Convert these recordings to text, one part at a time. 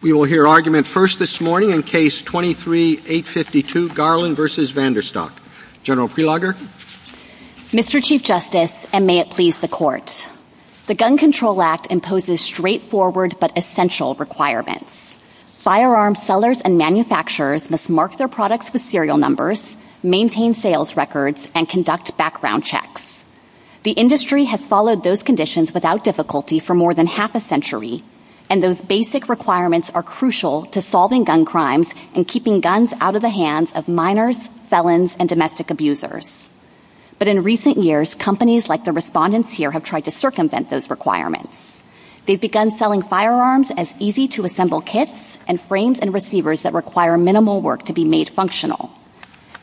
We will hear argument first this morning in Case 23-852, Garland v. VanDerStok. Gen. Prelogger. Mr. Chief Justice, and may it please the Court, the Gun Control Act imposes straightforward but essential requirements. Firearm sellers and manufacturers must mark their products with serial numbers, maintain sales records, and conduct background checks. The industry has followed those conditions without difficulty for more than half a century, and those basic requirements are crucial to solving gun crimes and keeping guns out of the hands of minors, felons, and domestic abusers. But in recent years, companies like the respondents here have tried to circumvent those requirements. They've begun selling firearms as easy-to-assemble kits, and frames and receivers that require minimal work to be made functional.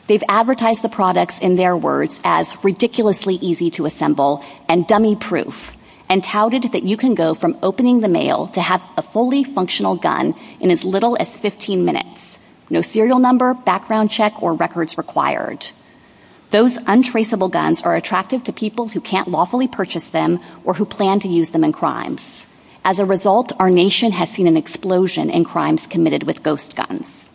They've advertised the products, in their words, as ridiculously easy to assemble and dummy-proof, and touted that you can go from opening the mail to have a fully functional gun in as little as 15 minutes, no serial number, background check, or records required. Those untraceable guns are attractive to people who can't lawfully purchase them or who plan to use them in crimes. As a result, our nation has seen an explosion in crimes committed with ghost guns.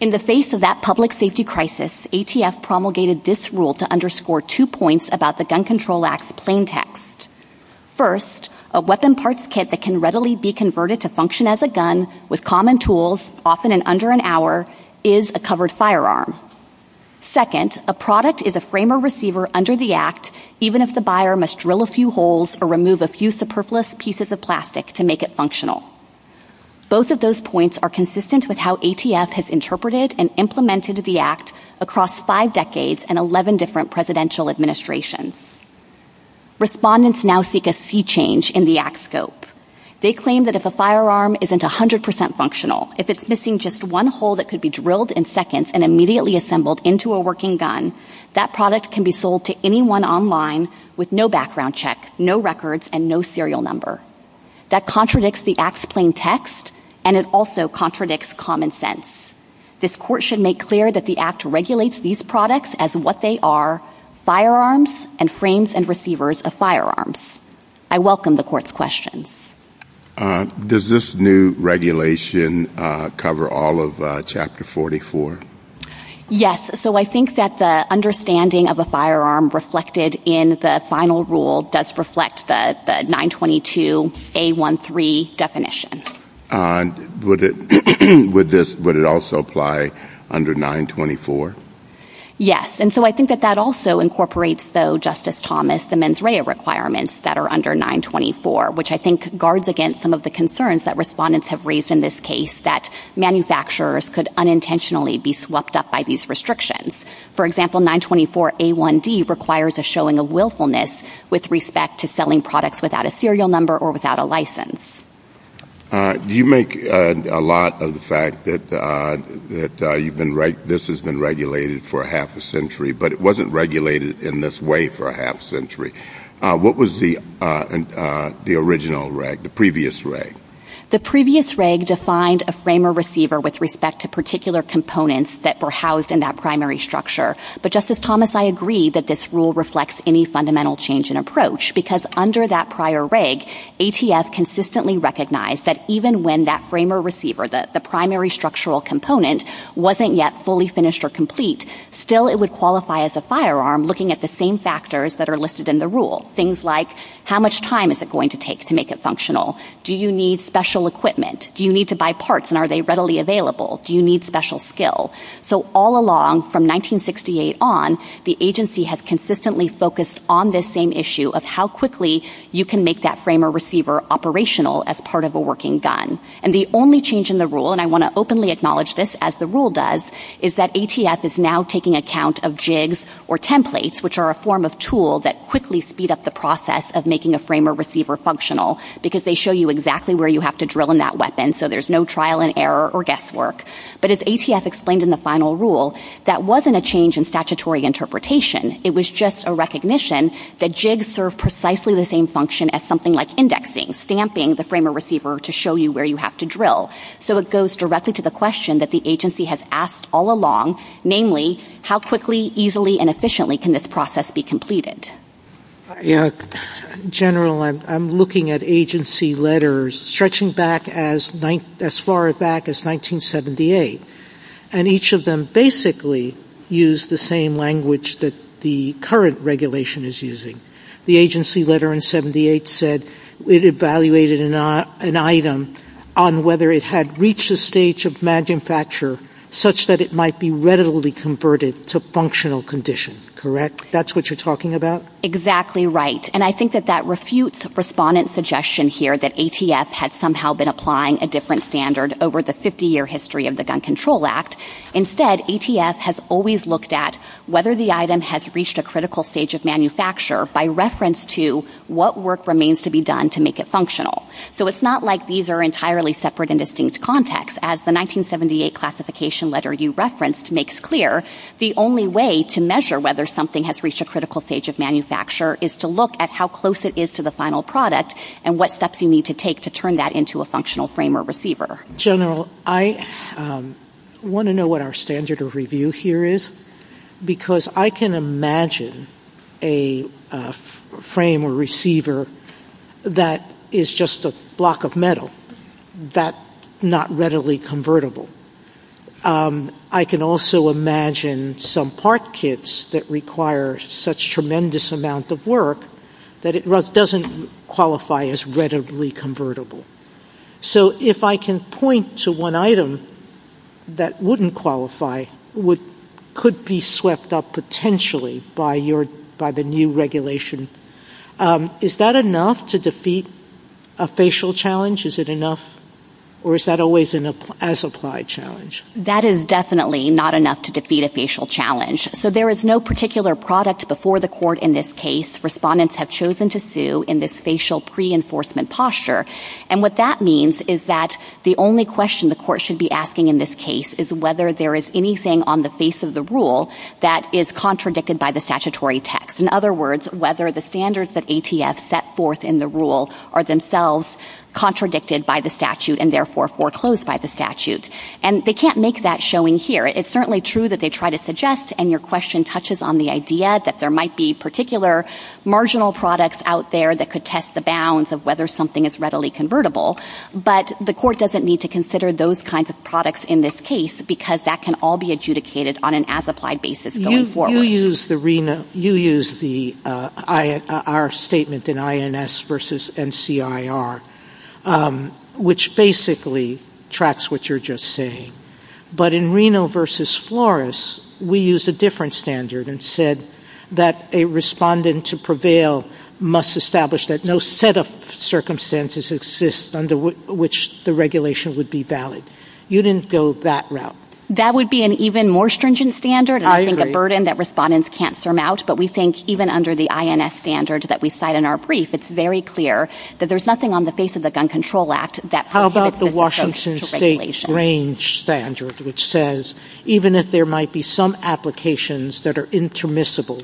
In the face of that public safety crisis, ATF promulgated this rule to underscore two points about the Gun Control Act's plain text. First, a weapon parts kit that can readily be converted to function as a gun with common tools, often in under an hour, is a covered firearm. Second, a product is a frame or receiver under the Act, even if the buyer must drill a few holes or remove a few superfluous pieces of plastic to make it functional. Both of those points are consistent with how ATF has interpreted and implemented the Act across five decades and 11 different presidential administrations. Respondents now seek a sea change in the Act's scope. They claim that if a firearm isn't 100% functional, if it's missing just one hole that could be drilled in seconds and immediately assembled into a working gun, that product can be sold to anyone online with no background check, no records, and no serial number. That contradicts the Act's plain text, and it also contradicts common sense. This court should make clear that the Act regulates these products as what they are, firearms, and frames and receivers of firearms. I welcome the court's questions. Does this new regulation cover all of Chapter 44? Yes. So I think that the understanding of a firearm reflected in the final rule does reflect the 922A13 definition. Would it also apply under 924? Yes. And so I think that that also incorporates, though, Justice Thomas, the mens rea requirements that are under 924, which I think guards against some of the concerns that respondents have raised in this case that manufacturers could unintentionally be swept up by these restrictions. For example, 924A1D requires a showing of willfulness with respect to selling products without a serial number or without a license. You make a lot of the fact that this has been regulated for half a century, but it wasn't regulated in this way for half a century. What was the original reg, the previous reg? The previous reg defined a frame or receiver with respect to particular components that were housed in that primary structure. But, Justice Thomas, I agree that this rule reflects any fundamental change in approach, because under that prior reg, ATF consistently recognized that even when that frame or receiver, the primary structural component, wasn't yet fully finished or complete, still it would qualify as a firearm looking at the same factors that are listed in the rule. Things like how much time is it going to take to make it functional? Do you need special equipment? Do you need to buy parts and are they readily available? Do you need special skill? So all along from 1968 on, the agency has consistently focused on this same issue of how quickly you can make that frame or receiver operational as part of a working gun. And the only change in the rule, and I want to openly acknowledge this as the rule does, is that ATF is now taking account of jigs or templates, which are a form of tool that quickly speed up the process of making a frame or receiver functional, because they show you exactly where you have to drill in that weapon, so there's no trial and error or guesswork. But as ATF explained in the final rule, that wasn't a change in statutory interpretation. It was just a recognition that jigs serve precisely the same function as something like indexing, stamping the frame or receiver to show you where you have to drill. So it goes directly to the question that the agency has asked all along, namely, how quickly, easily, and efficiently can this process be completed? General, I'm looking at agency letters stretching back as far back as 1978. And each of them basically used the same language that the current regulation is using. The agency letter in 1978 said it evaluated an item on whether it had reached the stage of manufacture such that it might be readily converted to functional condition, correct? That's what you're talking about? Exactly right. And I think that that refutes respondent's suggestion here that ATF had somehow been applying a different standard over the 50-year history of the Gun Control Act. Instead, ATF has always looked at whether the item has reached a critical stage of manufacture by reference to what work remains to be done to make it functional. So it's not like these are entirely separate and distinct contexts. As the 1978 classification letter you referenced makes clear, the only way to measure whether something has reached a critical stage of manufacture is to look at how close it is to the final product and what steps you need to take to turn that into a functional frame or receiver. General, I want to know what our standard of review here is because I can imagine a frame or receiver that is just a block of metal that's not readily convertible. I can also imagine some part kits that require such tremendous amount of work that it doesn't qualify as readily convertible. So if I can point to one item that wouldn't qualify, could be swept up potentially by the new regulation. Is that enough to defeat a facial challenge? Is it enough or is that always an as-applied challenge? That is definitely not enough to defeat a facial challenge. So there is no particular product before the court in this case respondents have chosen to sue in this facial pre-enforcement posture. And what that means is that the only question the court should be asking in this case is whether there is anything on the face of the rule that is contradicted by the statutory text. In other words, whether the standards that ATF set forth in the rule are themselves contradicted by the statute and therefore foreclosed by the statute. And they can't make that showing here. It's certainly true that they try to suggest and your question touches on the idea that there might be particular marginal products out there that could test the bounds of whether something is readily convertible, but the court doesn't need to consider those kinds of products in this case because that can all be adjudicated on an as-applied basis going forward. You use the RINA, you use the, our statement in INS versus NCIR, which basically tracks what you're just saying. But in RINA versus Flores, we use a different standard and said that a respondent to prevail must establish that no set of circumstances exist under which the regulation would be valid. You didn't go that route. That would be an even more stringent standard. I think a burden that respondents can't surmount, but we think even under the INS standard that we cite in our brief, it's very clear that there's nothing on the face of the Gun Control Act that prohibits this approach to regulation. How about the Washington State range standard which says even if there might be some applications that are intermissible,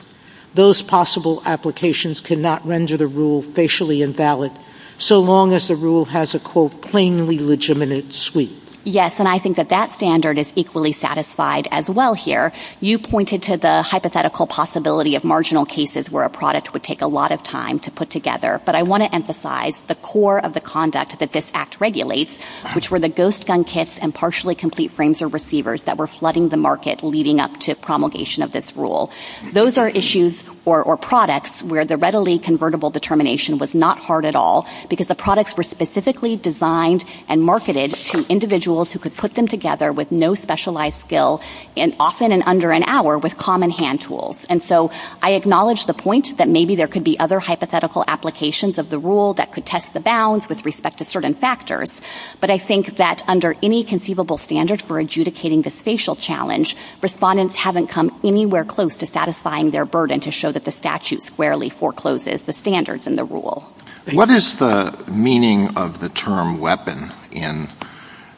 those possible applications cannot render the rule facially invalid so long as the rule has a, quote, plainly legitimate suite. Yes, and I think that that standard is equally satisfied as well here. You pointed to the hypothetical possibility of marginal cases where a product would take a lot of time to put together, but I want to emphasize the core of the conduct that this act regulates, which were the ghost gun kits and partially complete frames or receivers that were flooding the market leading up to promulgation of this rule. Those are issues or products where the readily convertible determination was not hard at all because the products were specifically designed and marketed to individuals who could put them together with no specialized skill and often in under an hour with common hand tools. And so I acknowledge the point that maybe there could be other hypothetical applications of the rule that could test the bounds with respect to certain factors, but I think that under any conceivable standard for adjudicating the spatial challenge, respondents haven't come anywhere close to satisfying their burden to show that the statute squarely forecloses the standards in the rule. What is the meaning of the term weapon in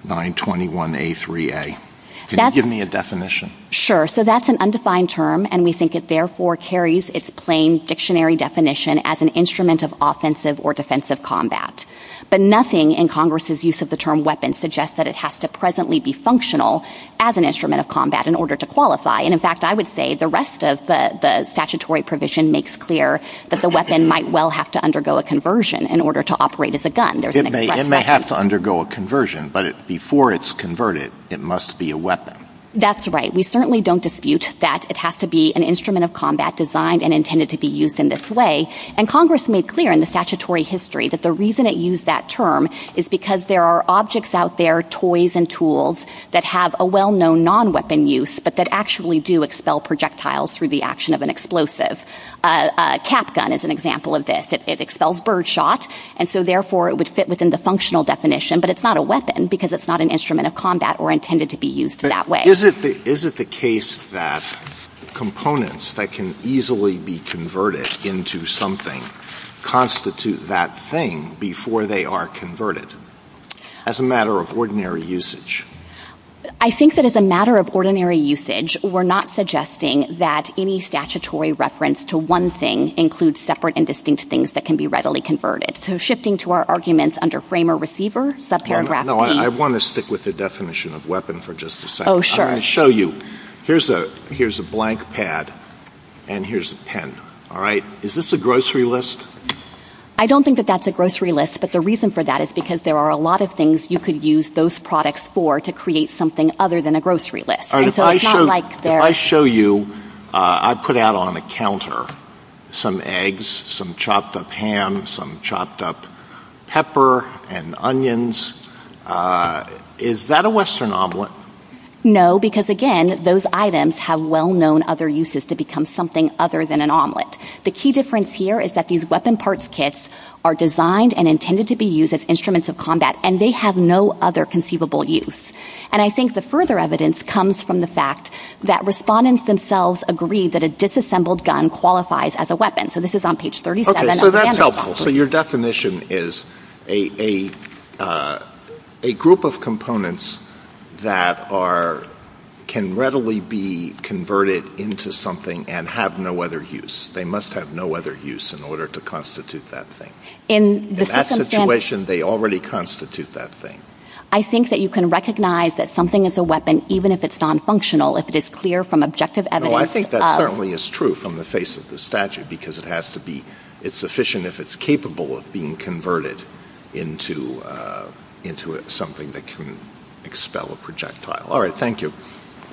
921A3A? Can you give me a definition? Sure. So that's an undefined term, and we think it therefore carries its plain dictionary definition as an instrument of offensive or defensive combat, but nothing in Congress' use of the term weapon suggests that it has to presently be functional as an instrument of combat in order to qualify. And in fact, I would say the rest of the statutory provision makes clear that the weapon might well have to undergo a conversion in order to operate as a gun. There's an expression. It may have to undergo a conversion, but before it's converted, it must be a weapon. That's right. We certainly don't dispute that it has to be an instrument of combat designed and intended to be used in this way. And Congress made clear in the statutory history that the reason it used that term is because there are objects out there, toys and tools, that have a well-known non-weapon use, but that actually do expel projectiles through the action of an explosive. A cap gun is an example of this. It expels birdshot, and so therefore it would fit within the functional definition, but it's not a weapon because it's not an instrument of combat or intended to be used that way. Is it the case that components that can easily be converted into something constitute that thing before they are converted? As a matter of ordinary usage. I think that as a matter of ordinary usage, we're not suggesting that any statutory reference to one thing includes separate and distinct things that can be readily converted. So shifting to our arguments under frame or receiver, subparagraph E. No, I want to stick with the definition of weapon for just a second. Oh, sure. I'll show you. Here's a blank pad, and here's a pen, all right? Is this a grocery list? I don't think that that's a grocery list, but the reason for that is because there are a lot of things you could use those products for to create something other than a grocery list. And so it's not like they're. If I show you, I put out on a counter some eggs, some chopped up ham, some chopped up pepper, and onions, is that a Western omelet? No, because again, those items have well-known other uses to become something other than an omelet. The key difference here is that these weapon parts kits are designed and intended to be used as instruments of combat, and they have no other conceivable use. And I think the further evidence comes from the fact that respondents themselves agree that a disassembled gun qualifies as a weapon. So this is on page 37 of the handbook. So your definition is a group of components that can readily be converted into something and have no other use. They must have no other use in order to constitute that thing. In that situation, they already constitute that thing. I think that you can recognize that something is a weapon, even if it's nonfunctional, if it is clear from objective evidence of. No, I think that certainly is true from the face of the statute, because it has to be, it's sufficient if it's capable of being converted into something that can expel a projectile. All right, thank you.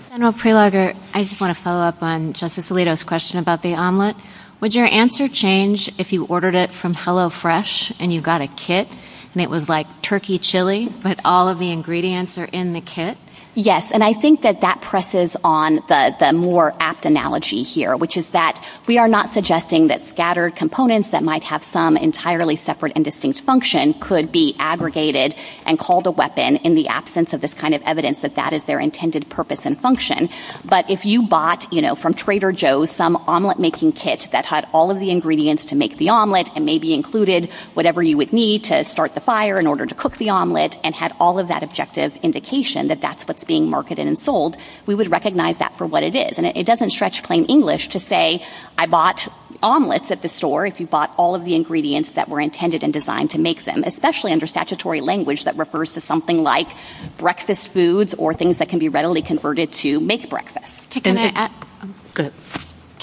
General Preloger, I just want to follow up on Justice Alito's question about the omelet. Would your answer change if you ordered it from HelloFresh and you got a kit and it was like turkey chili, but all of the ingredients are in the kit? Yes, and I think that that presses on the more apt analogy here, which is that we are not suggesting that scattered components that might have some entirely separate and distinct function could be aggregated and called a weapon in the absence of this kind of evidence that that is their intended purpose and function. But if you bought, you know, from Trader Joe's some omelet making kit that had all of the ingredients to make the omelet and maybe included whatever you would need to start the fire in order to cook the omelet and had all of that objective indication that that's what's being marketed and sold, we would recognize that for what it is. And it doesn't stretch plain English to say I bought omelets at the store if you bought all of the ingredients that were intended and designed to make them, especially under statutory language that refers to something like breakfast foods or things that can be readily converted to make breakfast.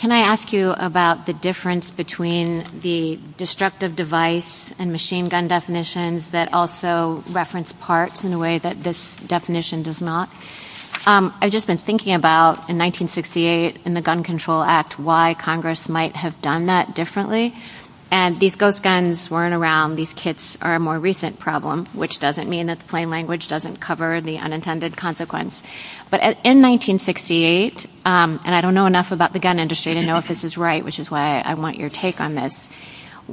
Can I ask you about the difference between the destructive device and machine gun definitions that also reference parts in a way that this definition does not? I've just been thinking about in 1968 in the Gun Control Act why Congress might have done that differently and these ghost guns weren't around. These kits are a more recent problem, which doesn't mean that plain language doesn't cover the unintended consequence, but in 1968, and I don't know enough about the gun industry to know if this is right, which is why I want your take on this,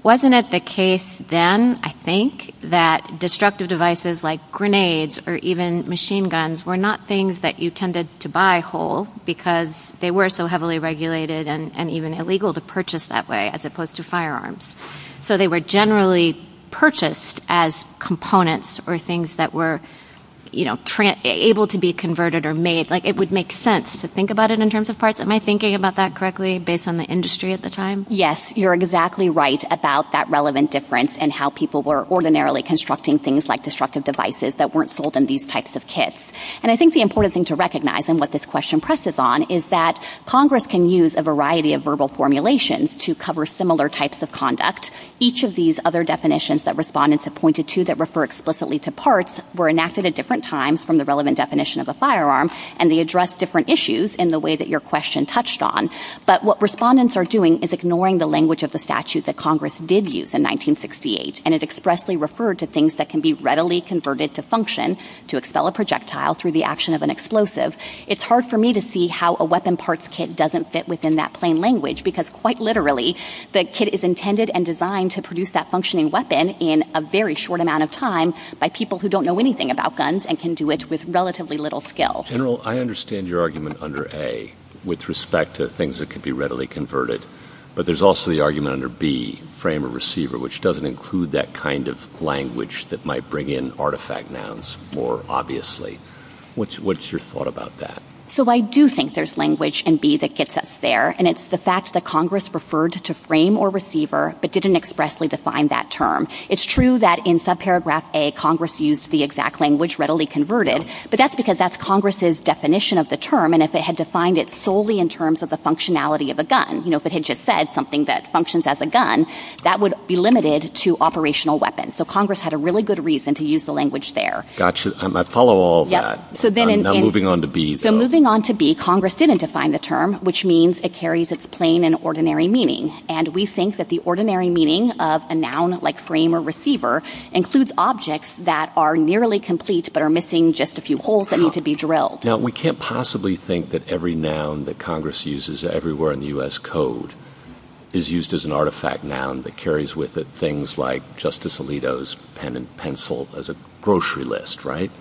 wasn't it the case then, I think, that destructive devices like grenades or even machine guns were not things that you tended to buy whole because they were so heavily regulated and even illegal to purchase that way as opposed to firearms. So they were generally purchased as components or things that were, you know, able to be converted or made, like it would make sense to think about it in terms of parts. Am I thinking about that correctly based on the industry at the time? Yes, you're exactly right about that relevant difference in how people were ordinarily constructing things like destructive devices that weren't sold in these types of kits. And I think the important thing to recognize and what this question presses on is that Congress can use a variety of verbal formulations to cover similar types of conduct. Each of these other definitions that respondents have pointed to that refer explicitly to parts were enacted at different times from the relevant definition of a firearm and they address different issues in the way that your question touched on. But what respondents are doing is ignoring the language of the statute that Congress did use in 1968 and it expressly referred to things that can be readily converted to function to expel a projectile through the action of an explosive. It's hard for me to see how a weapon parts kit doesn't fit within that plain language because quite literally the kit is intended and designed to produce that functioning weapon in a very short amount of time by people who don't know anything about guns and can do it with relatively little skill. General, I understand your argument under A with respect to things that could be readily converted but there's also the argument under B, frame or receiver, which doesn't include that kind of language that might bring in artifact nouns more obviously. What's your thought about that? So I do think there's language in B that gets us there and it's the fact that Congress referred to frame or receiver but didn't expressly define that term. It's true that in subparagraph A, Congress used the exact language readily converted but that's because that's Congress' definition of the term and if they had defined it solely in terms of the functionality of a gun, you know, if it had just said something that functions as a gun, that would be limited to operational weapons. So Congress had a really good reason to use the language there. Got you. I follow all of that. So then in moving on to B. So moving on to B, Congress didn't define the term which means it carries its plain and ordinary meaning. And we think that the ordinary meaning of a noun like frame or receiver includes objects that are nearly complete but are missing just a few holes that need to be drilled. Now we can't possibly think that every noun that Congress uses everywhere in the U.S. code is used as an artifact noun that carries with it things like Justice Alito's pen and pencil as a grocery list, right?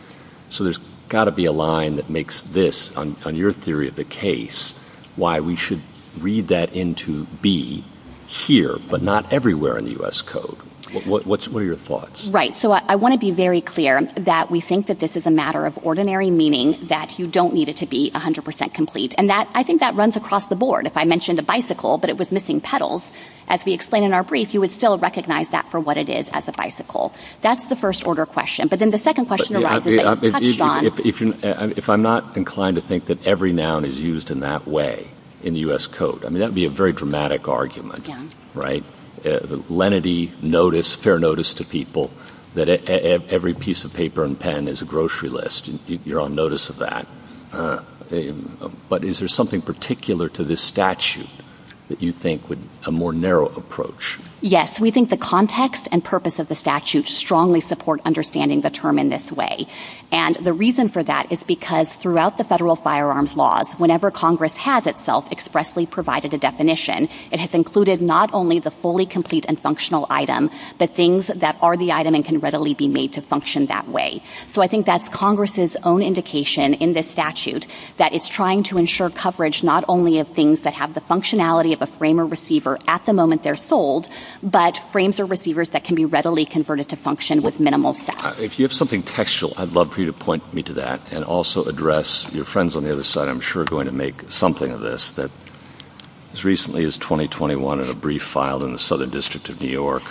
So there's got to be a line that makes this, on your theory of the case, why we should read that into B here but not everywhere in the U.S. code. What are your thoughts? Right. So I want to be very clear that we think that this is a matter of ordinary meaning that you don't need it to be 100% complete. And that, I think that runs across the board. If I mentioned a bicycle but it was missing pedals, as we explained in our brief, you would still recognize that for what it is as a bicycle. That's the first order question. But then the second question arises that it's touched on. If I'm not inclined to think that every noun is used in that way in the U.S. code, I mean that would be a very dramatic argument, right? Lenity, notice, fair notice to people that every piece of paper and pen is a grocery list, you're on notice of that. But is there something particular to this statute that you think would a more narrow approach? Yes. We think the context and purpose of the statute strongly support understanding the term in this way. And the reason for that is because throughout the federal firearms laws, whenever Congress has itself expressly provided a definition, it has included not only the fully complete and functional item but things that are the item and can readily be made to function that way. So I think that's Congress' own indication in this statute that it's trying to ensure coverage not only of things that have the functionality of a frame or receiver at the moment they're sold, but frames or receivers that can be readily converted to function with minimal. If you have something textual, I'd love for you to point me to that and also address your friends on the other side, I'm sure going to make something of this that as recently as twenty twenty one in a brief filed in the Southern District of New York,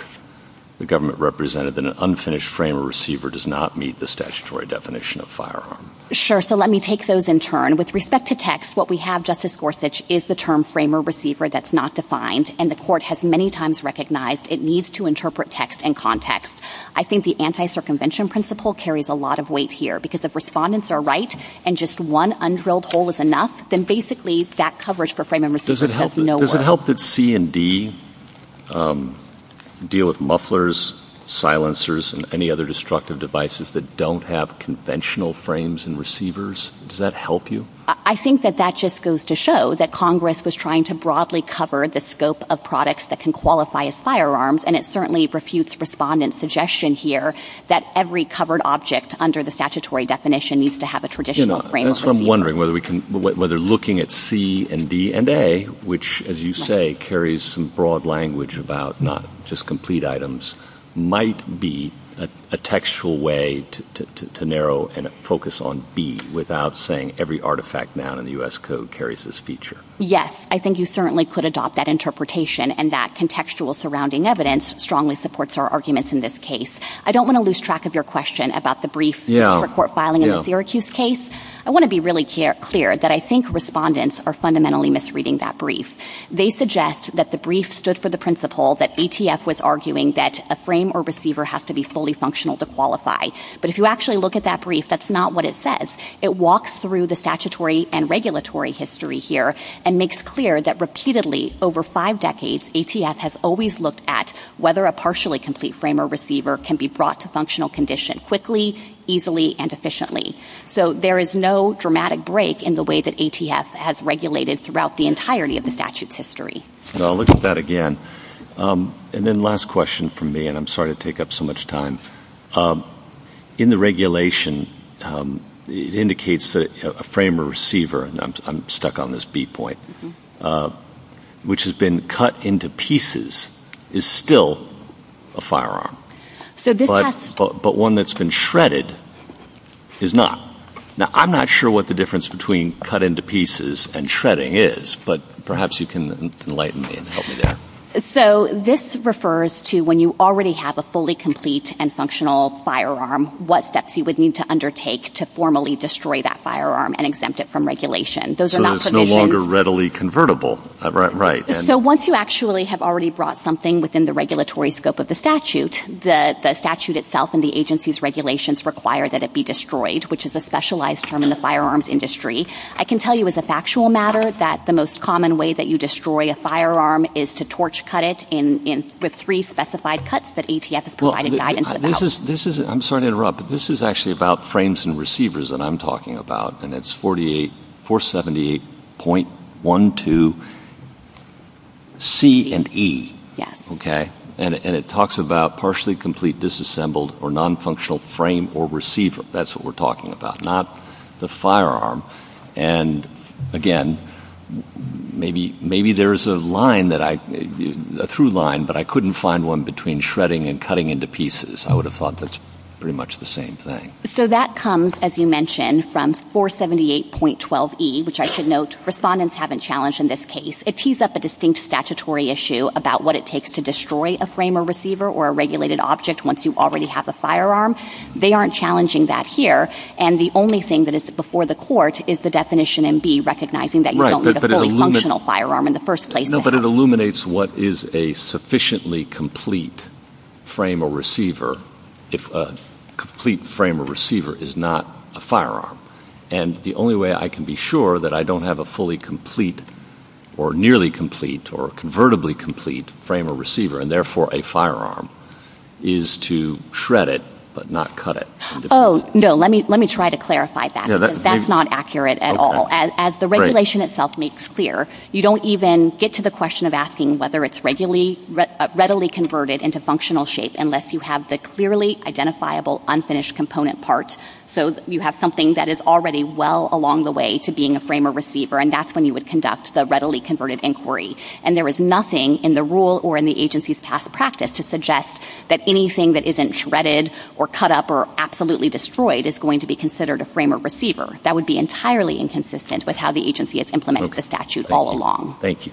the government represented that an unfinished frame or receiver does not meet the statutory definition of firearm. Sure. So let me take those in turn with respect to text. What we have, Justice Gorsuch, is the term frame or receiver. That's not defined. And the court has many times recognized it needs to interpret text and context. I think the anti circumvention principle carries a lot of weight here because the respondents are right. And just one unhealed hole is enough. Then basically that coverage for frame and receiver does it help? Does it help that C and D deal with mufflers, silencers and any other destructive devices that don't have conventional frames and receivers? Does that help you? I think that that just goes to show that Congress was trying to broadly cover the scope of products that can qualify as firearms. And it certainly refused respondents suggestion here that every covered object under the statutory definition needs to have a traditional frame. And so I'm wondering whether we can whether looking at C and D and A, which, as you say, carries some broad language about not just complete items might be a textual way to narrow and focus on B without saying every artifact now in the U.S. code carries this feature. Yes, I think you certainly could adopt that interpretation and that contextual surrounding evidence strongly supports our arguments. In this case, I don't want to lose track of your question about the brief court filing in the Syracuse case. I want to be really clear that I think respondents are fundamentally misreading that brief. They suggest that the brief stood for the principle that ATF was arguing that a frame or receiver has to be fully functional to qualify. But if you actually look at that brief, that's not what it says. It walks through the statutory and regulatory history here and makes clear that repeatedly over five decades, ATF has always looked at whether a partially complete frame or receiver can be brought to functional condition quickly, easily and efficiently. So there is no dramatic break in the way that ATF has regulated throughout the entirety of the statute's history. So I'll look at that again. And then last question for me, and I'm sorry to take up so much time. In the regulation, it indicates that a frame or receiver, and I'm stuck on this B point, which has been cut into pieces is still a firearm. So but but one that's been shredded is not. Now, I'm not sure what the difference between cut into pieces and shredding is, but perhaps you can enlighten me and help me there. So this refers to when you already have a fully complete and functional firearm, what steps you would need to undertake to formally destroy that firearm and exempt it from regulation. Those are no longer readily convertible. Right. So once you actually have already brought something within the regulatory scope of the statute, the statute itself and the agency's regulations require that it be destroyed, which is a specialized term in the firearms industry. I can tell you as a factual matter that the most common way that you destroy a firearm is to torch cut it in with three specified cuts that ATF has provided guidance about. This is this is I'm sorry to interrupt, but this is actually about frames and receivers that I'm talking about. And it's forty eight for seventy eight point one to. C and E. Yes. OK. And it talks about partially complete disassembled or nonfunctional frame or receiver. That's what we're talking about, not the firearm. And again, maybe maybe there is a line that I through line, but I couldn't find one between shredding and cutting into pieces. I would have thought that's pretty much the same thing. So that comes, as you mentioned, from four seventy eight point twelve E, which I should note respondents haven't challenged in this case. It tees up a distinct statutory issue about what it takes to destroy a frame or receiver or a regulated object once you already have a firearm. They aren't challenging that here. And the only thing that is before the court is the definition and be recognizing that you don't have a fully functional firearm in the first place, but it illuminates what is a sufficiently complete frame or receiver if a complete frame or receiver is not a firearm. And the only way I can be sure that I don't have a fully complete or nearly complete or convertibly complete frame or receiver and therefore a firearm is to shred it, but not cut it. Oh, no. Let me let me try to clarify that. That's not accurate at all. As the regulation itself makes clear, you don't even get to the question of asking whether it's regularly, readily converted into functional shape unless you have the clearly identifiable unfinished component part. So you have something that is already well along the way to being a frame or receiver. And that's when you would conduct the readily converted inquiry. And there is nothing in the rule or in the agency's past practice to suggest that anything that isn't shredded or cut up or absolutely destroyed is going to be considered a frame or receiver. That would be entirely inconsistent with how the agency has implemented the statute all along. Thank you.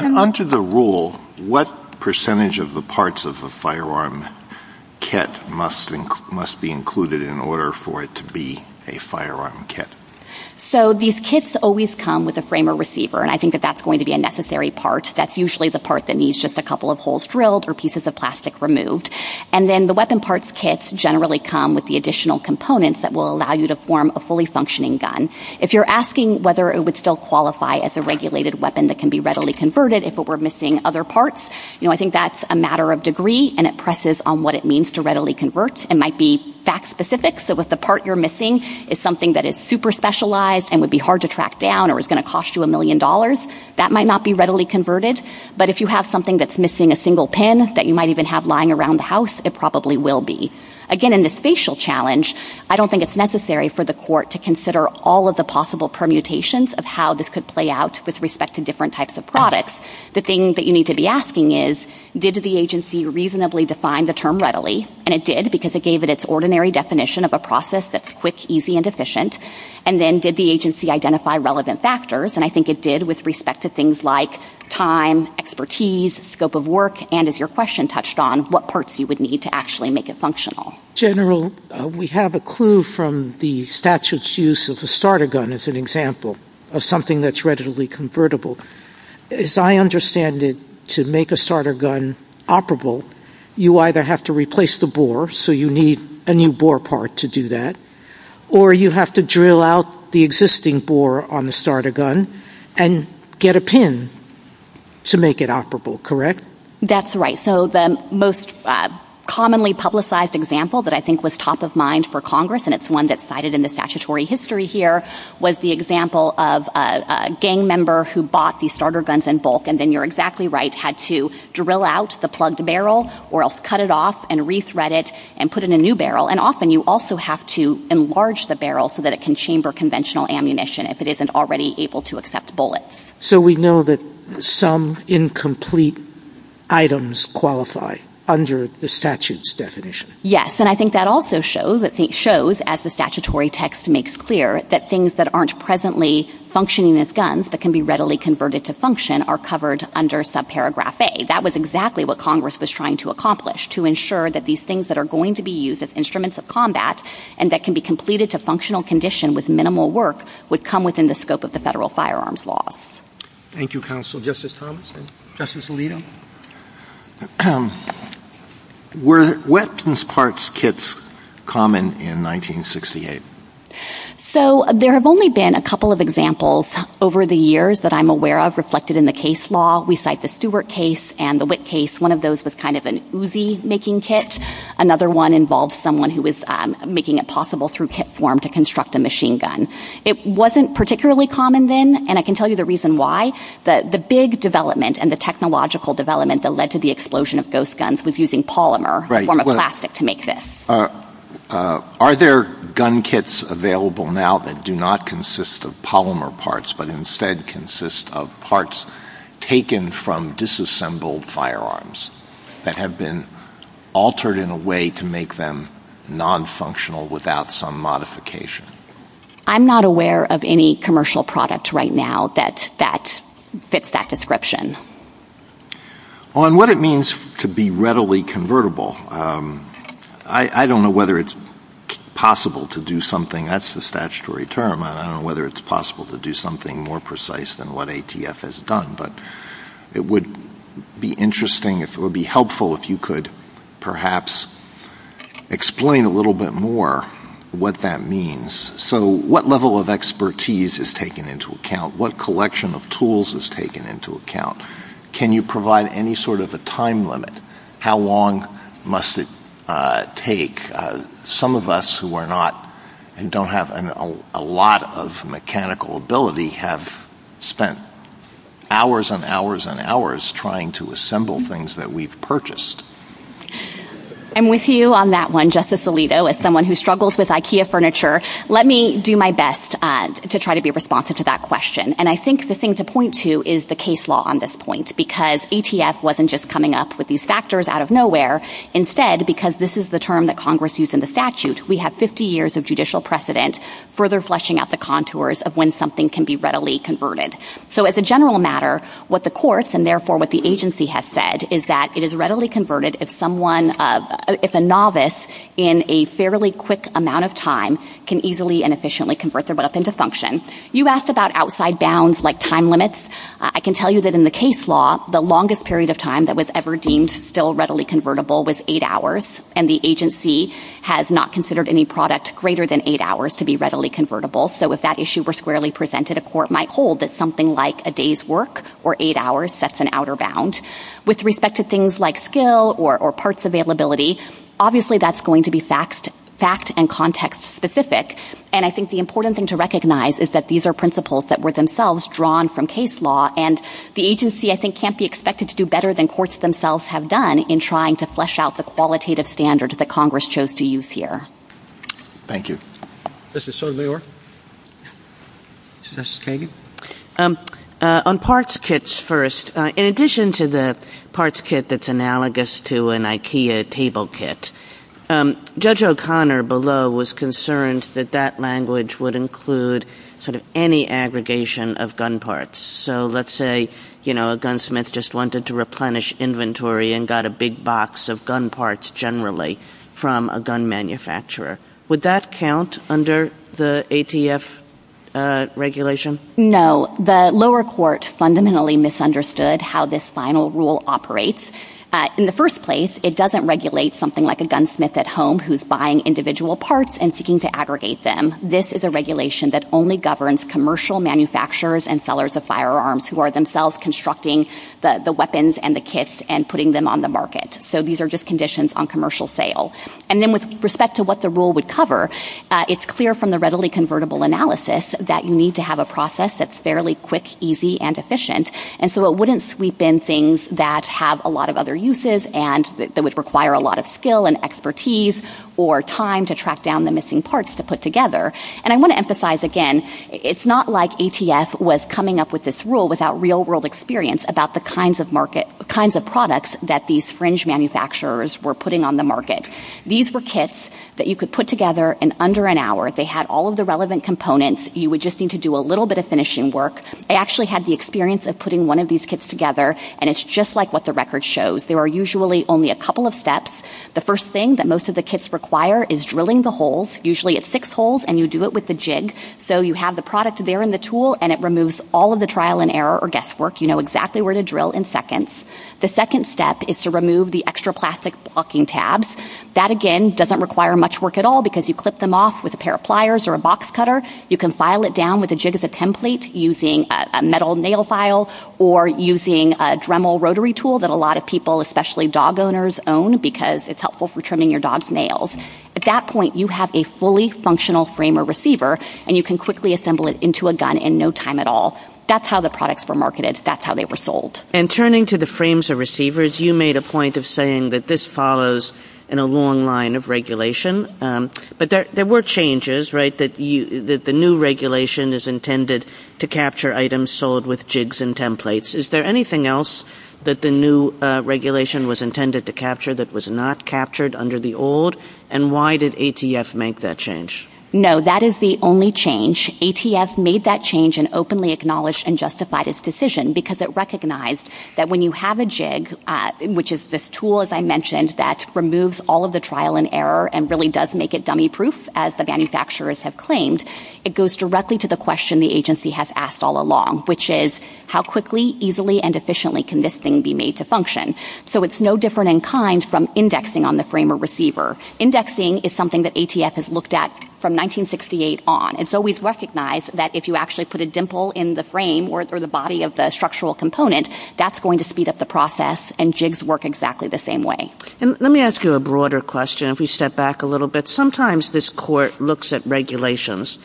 Under the rule, what percentage of the parts of the firearm kit must be included in order for it to be a firearm kit? So these kits always come with a frame or receiver. And I think that that's going to be a necessary part. That's usually the part that needs just a couple of holes drilled or pieces of plastic removed. And then the weapon parts kits generally come with the additional components that will allow you to form a fully functioning gun. If you're asking whether it would still qualify as a regulated weapon that can be readily converted if it were missing other parts, you know, I think that's a matter of degree. And it presses on what it means to readily convert. It might be fact specific. So if the part you're missing is something that is super specialized and would be hard to track down or is going to cost you a million dollars, that might not be readily converted. But if you have something that's missing a single pin that you might even have lying around the house, it probably will be. Again, in the spatial challenge, I don't think it's necessary for the court to consider all of the possible permutations of how this could play out with respect to different types of products. The thing that you need to be asking is, did the agency reasonably define the term readily? And it did because it gave it its ordinary definition of a process that's quick, easy, and efficient. And then did the agency identify relevant factors? And I think it did with respect to things like time, expertise, scope of work, and as your question touched on, what parts you would need to actually make it functional. General, we have a clue from the statute's use of the starter gun as an example of something that's readily convertible. As I understand it, to make a starter gun operable, you either have to replace the bore, so you need a new bore part to do that, or you have to drill out the existing bore on the starter gun and get a pin to make it operable, correct? That's right. So the most commonly publicized example that I think was top of mind for Congress, and it's one that's cited in the statutory history here, was the example of a gang member who bought the starter guns in bulk, and then you're exactly right, had to drill out the plugged barrel, or else cut it off and rethread it and put in a new barrel. And often you also have to enlarge the barrel so that it can chamber conventional ammunition if it isn't already able to accept bullets. So we know that some incomplete items qualify under the statute's definition. Yes, and I think that also shows, as the statutory text makes clear, that things that aren't presently functioning as guns but can be readily converted to function are covered under subparagraph A. That was exactly what Congress was trying to accomplish, to ensure that these things that are going to be used as instruments of combat and that can be completed to functional condition with minimal work would come within the scope of the federal firearms law. Thank you, Counsel. Justice Thomas, and Justice Alito. Were weapons parts kits common in 1968? So there have only been a couple of examples over the years that I'm aware of reflected in the case law. We cite the Stewart case and the Witt case. One of those was kind of an Uzi-making kit. Another one involved someone who was making it possible through kit form to construct a machine gun. It wasn't particularly common then, and I can tell you the reason why. The big development and the technological development that led to the explosion of those guns was using polymer in the form of plastic to make this. Are there gun kits available now that do not consist of polymer parts but instead consist of parts taken from disassembled firearms that have been altered in a way to make them nonfunctional without some modification? I'm not aware of any commercial product right now that fits that description. On what it means to be readily convertible, I don't know whether it's possible to do something, that's the statutory term. I don't know whether it's possible to do something more precise than what ATF has done, but it would be interesting, it would be helpful if you could perhaps explain a little bit more what that means, so what level of expertise is taken into account? What collection of tools is taken into account? Can you provide any sort of a time limit? How long must it take? Some of us who are not, don't have a lot of mechanical ability have spent hours and hours and hours trying to assemble things that we've purchased. And with you on that one, Justice Alito, as someone who struggles with IKEA furniture, let me do my best to try to be responsive to that question. And I think the thing to point to is the case law on this point because ATF wasn't just coming up with these factors out of nowhere. Instead, because this is the term that Congress used in the statute, we have 50 years of judicial precedent further fleshing out the contours of when something can be readily converted. So as a general matter, what the courts and therefore what the agency has said is that it is readily converted if someone, if a novice in a fairly quick amount of time can easily and efficiently convert their product into function. You asked about outside bounds like time limits. I can tell you that in the case law, the longest period of time that was ever deemed still readily convertible was eight hours. And the agency has not considered any product greater than eight hours to be readily convertible. So if that issue were squarely presented, a court might hold that something like a day's work or eight hours sets an outer bound. With respect to things like skill or parts availability, obviously that's going to be fact and context specific. And I think the important thing to recognize is that these are principles that were themselves drawn from case law. And the agency, I think, can't be expected to do better than courts themselves have done in trying to flesh out the qualitative standard that Congress chose to use here. Thank you. Justice Sotomayor. Justice Kagan. On parts kits first, in addition to the parts kit that's analogous to an IKEA table kit, Judge O'Connor below was concerned that that language would include sort of any aggregation of gun parts. So let's say, you know, a gunsmith just wanted to replenish inventory and got a big box of gun parts generally from a gun manufacturer. Would that count under the ATF regulation? No. The lower court fundamentally misunderstood how this final rule operates. In the first place, it doesn't regulate something like a gunsmith at home who's buying individual parts and seeking to aggregate them. This is a regulation that only governs commercial manufacturers and sellers of firearms who are themselves constructing the weapons and the kits and putting them on the market. So these are just conditions on commercial sale. And then with respect to what the rule would cover, it's clear from the readily convertible analysis that you need to have a process that's fairly quick, easy, and efficient. And so it wouldn't sweep in things that have a lot of other uses and that would require a lot of skill and expertise or time to track down the missing parts to put together. And I want to emphasize again, it's not like ATF was coming up with this rule without real world experience about the kinds of market, the kinds of products that these fringe manufacturers were putting on the market. These were kits that you could put together in under an hour. They had all of the relevant components. You would just need to do a little bit of finishing work. They actually had the experience of putting one of these kits together and it's just like what the record shows. There are usually only a couple of steps. The first thing that most of the kits require is drilling the holes. Usually it's six holes and you do it with the jig. So you have the product there in the tool and it removes all of the trial and error or guesswork, you know exactly where to drill in seconds. The second step is to remove the extra plastic blocking tabs. That again doesn't require much work at all because you clip them off with a pair of pliers or a box cutter. You can file it down with a jig as a template using a metal nail file or using a Dremel rotary tool that a lot of people, especially dog owners own because it's helpful for trimming your dog's nails. At that point, you have a fully functional frame or receiver and you can quickly assemble it into a gun in no time at all. That's how the products were marketed. That's how they were sold. And turning to the frames or receivers, you made a point of saying that this follows in a long line of regulation, but there were changes, right, that the new regulation is intended to capture items sold with jigs and templates. Is there anything else that the new regulation was intended to capture that was not captured under the old and why did ATF make that change? No, that is the only change. ATF made that change and openly acknowledged and justified its decision because it recognized that when you have a jig, which is this tool, as I mentioned, that removes all of the trial and error and really does make it dummy proof as the manufacturers have claimed, it goes directly to the question the agency has asked all along, which is how quickly, easily, and efficiently can this thing be made to function? So it's no different in kind from indexing on the frame or receiver. Indexing is something that ATF has looked at from 1968 on. It's always recognized that if you actually put a dimple in the frame or the body of the structural component, that's going to speed up the process and jigs work exactly the same way. And let me ask you a broader question if we step back a little bit. Sometimes this court looks at regulations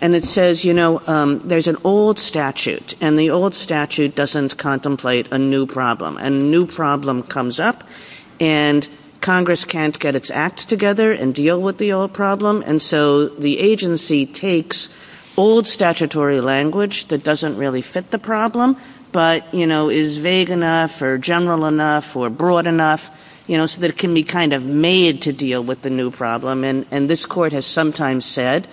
and it says, you know, there's an old statute and the old statute doesn't contemplate a new problem. A new problem comes up and Congress can't get its act together and deal with the old problem and so the agency takes old statutory language that doesn't really fit the problem but, you know, is vague enough or general enough or broad enough, you know, so that it can be kind of made to deal with the new problem and this court has sometimes said,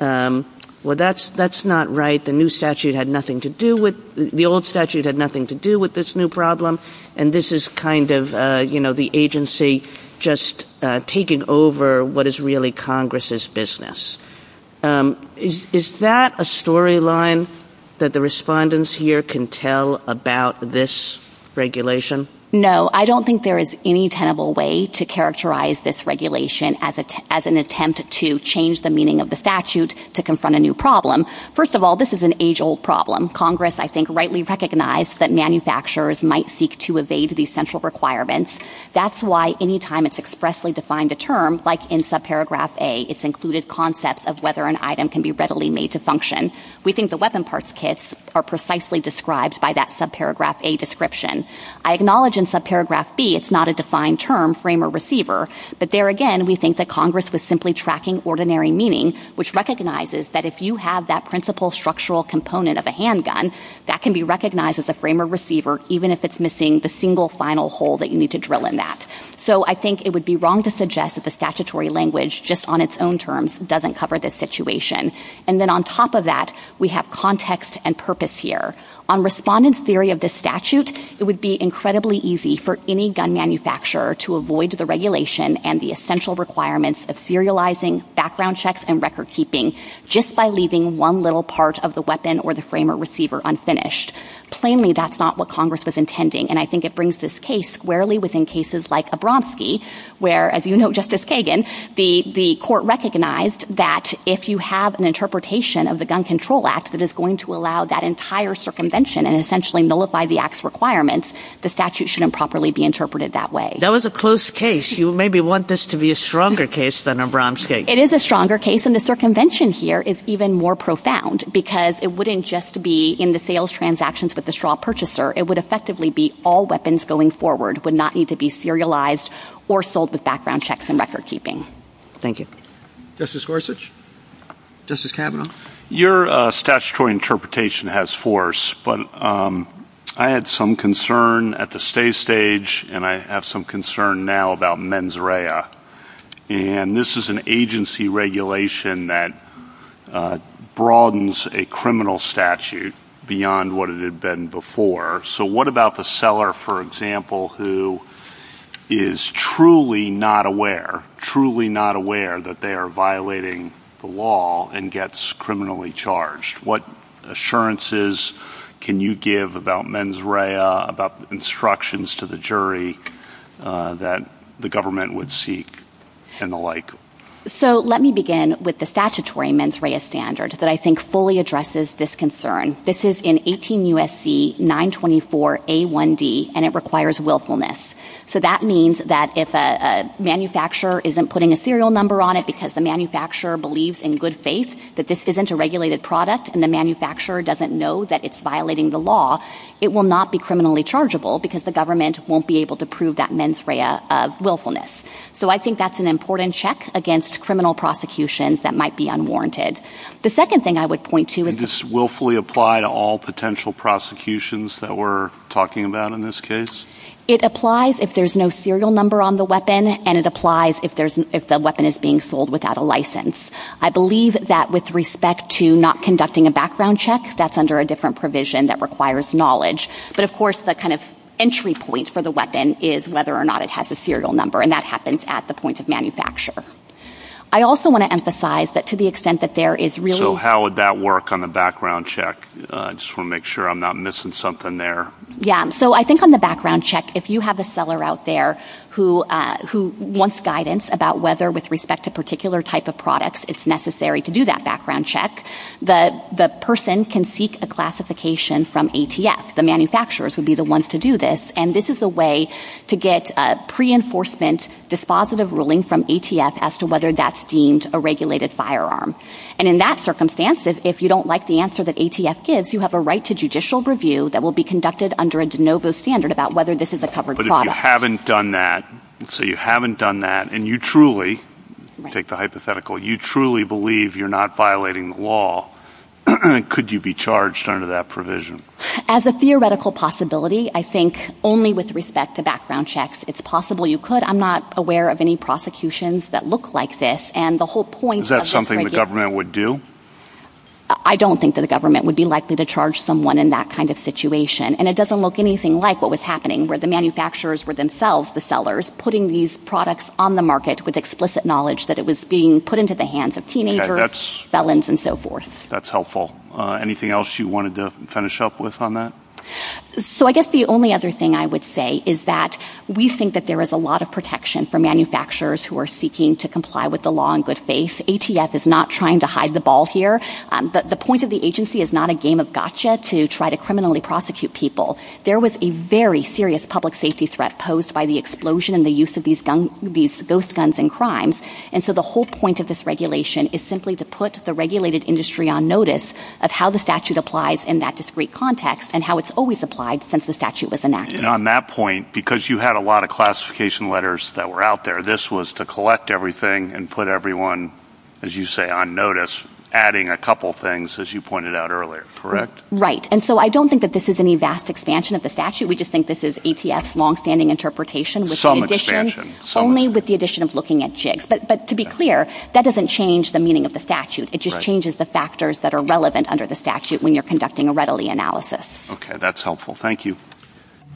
well, that's not right. The new statute had nothing to do with, the old statute had nothing to do with this new problem and this is kind of, you know, the agency just taking over what is really Congress's business. Is that a storyline that the respondents here can tell about this regulation? No, I don't think there is any tenable way to characterize this regulation as an attempt to change the meaning of the statute to confront a new problem. First of all, this is an age-old problem. Congress, I think, rightly recognized that manufacturers might seek to evade these central requirements. That's why any time it's expressly defined a term, like in subparagraph A, it's included concepts of whether an item can be readily made to function. We think the weapon parts kits are precisely described by that subparagraph A description. I acknowledge in subparagraph B, it's not a defined term, frame or receiver, but there again, we think that Congress was simply tracking ordinary meaning which recognizes that if you have that principal structural component of a handgun, that can be recognized as a frame or receiver even if it's missing the single final hole that you need to drill in that. So I think it would be wrong to suggest that the statutory language just on its own terms doesn't cover this situation. And then on top of that, we have context and purpose here. On respondents' theory of this statute, it would be incredibly easy for any gun manufacturer to avoid the regulation and the essential requirements of serializing, background checks, and record keeping just by leaving one little part of the weapon or the frame or receiver unfinished. Plainly, that's not what Congress was intending. And I think it brings this case rarely within cases like Abramski where, as you know, Justice Kagan, the court recognized that if you have an interpretation of the Gun Control Act that is going to allow that entire circumvention and essentially nullify the act's requirements, the statute shouldn't properly be interpreted that way. That was a close case. You maybe want this to be a stronger case than Abramski. It is a stronger case. And the circumvention here is even more profound because it wouldn't just be in the sales transactions with the straw purchaser. It would effectively be all weapons going forward would not need to be serialized or sold with background checks and record keeping. Thank you. Justice Gorsuch? Justice Kavanaugh? Your statutory interpretation has force, but I had some concern at the stay stage and I have some concern now about mens rea. And this is an agency regulation that broadens a criminal statute beyond what it had been before. So what about the seller, for example, who is truly not aware, truly not aware that they are violating the law and gets criminally charged? What assurances can you give about mens rea, about instructions to the jury that the government would seek and the like? So let me begin with the statutory mens rea standard that I think fully addresses this concern. This is in 18 U.S.C. 924 A1D and it requires willfulness. So that means that if a manufacturer isn't putting a serial number on it because the manufacturer believes in good faith that this isn't a regulated product and the manufacturer doesn't know that it's violating the law, it will not be criminally chargeable because the government won't be able to prove that mens rea of willfulness. So I think that's an important check against criminal prosecutions that might be unwarranted. The second thing I would point to is... Does willfully apply to all potential prosecutions that we're talking about in this case? It applies if there's no serial number on the weapon and it applies if the weapon is being sold without a license. I believe that with respect to not conducting a background check, that's under a different provision that requires knowledge. But, of course, the kind of entry point for the weapon is whether or not it has a serial number and that happens at the point of manufacture. I also want to emphasize that to the extent that there is really... So how would that work on a background check? I just want to make sure I'm not missing something there. Yeah, so I think on the background check, if you have a seller out there who wants guidance about whether with respect to a particular type of product it's necessary to do that background check, the person can seek a classification from ATF. The manufacturers would be the ones to do this and this is a way to get a pre-enforcement dispositive ruling from ATF as to whether that's deemed a regulated firearm. And in that circumstance, if you don't like the answer that ATF gives, you have a right to judicial review that will be conducted under a de novo standard about whether this is a covered product. But if you haven't done that, let's say you haven't done that and you truly, take the hypothetical, you truly believe you're not violating the law, could you be charged under that provision? As a theoretical possibility, I think only with respect to background checks, it's possible you could. I'm not aware of any prosecutions that look like this. Is that something the government would do? I don't think that the government would be likely to charge someone in that kind of situation. And it doesn't look anything like what was happening where the manufacturers were themselves the sellers putting these products on the market with explicit knowledge that it was being put into the hands of teenagers, felons, and so forth. That's helpful. Anything else you wanted to finish up with on that? So I guess the only other thing I would say is that we think that there is a lot of protection for manufacturers who are seeking to comply with the law in good faith. ATF is not trying to hide the ball here. The point of the agency is not a game of gotcha to try to criminally prosecute people. There was a very serious public safety threat posed by the explosion and the use of these ghost guns in crimes. And so the whole point of this regulation is simply to put the regulated industry on notice of how the statute applies in that discrete context and how it's always applied since the statute was enacted. And on that point, because you had a lot of classification letters that were out there, this was to collect everything and put everyone, as you say, on notice, adding a couple things, as you pointed out earlier, correct? Right. And so I don't think that this is any vast expansion of the statute. We just think this is ATF's longstanding interpretation. Some expansion. Only with the addition of looking at jigs. But to be clear, that doesn't change the meaning of the statute. It just changes the factors that are relevant under the statute when you're conducting a readily analysis. Okay, that's helpful. Thank you.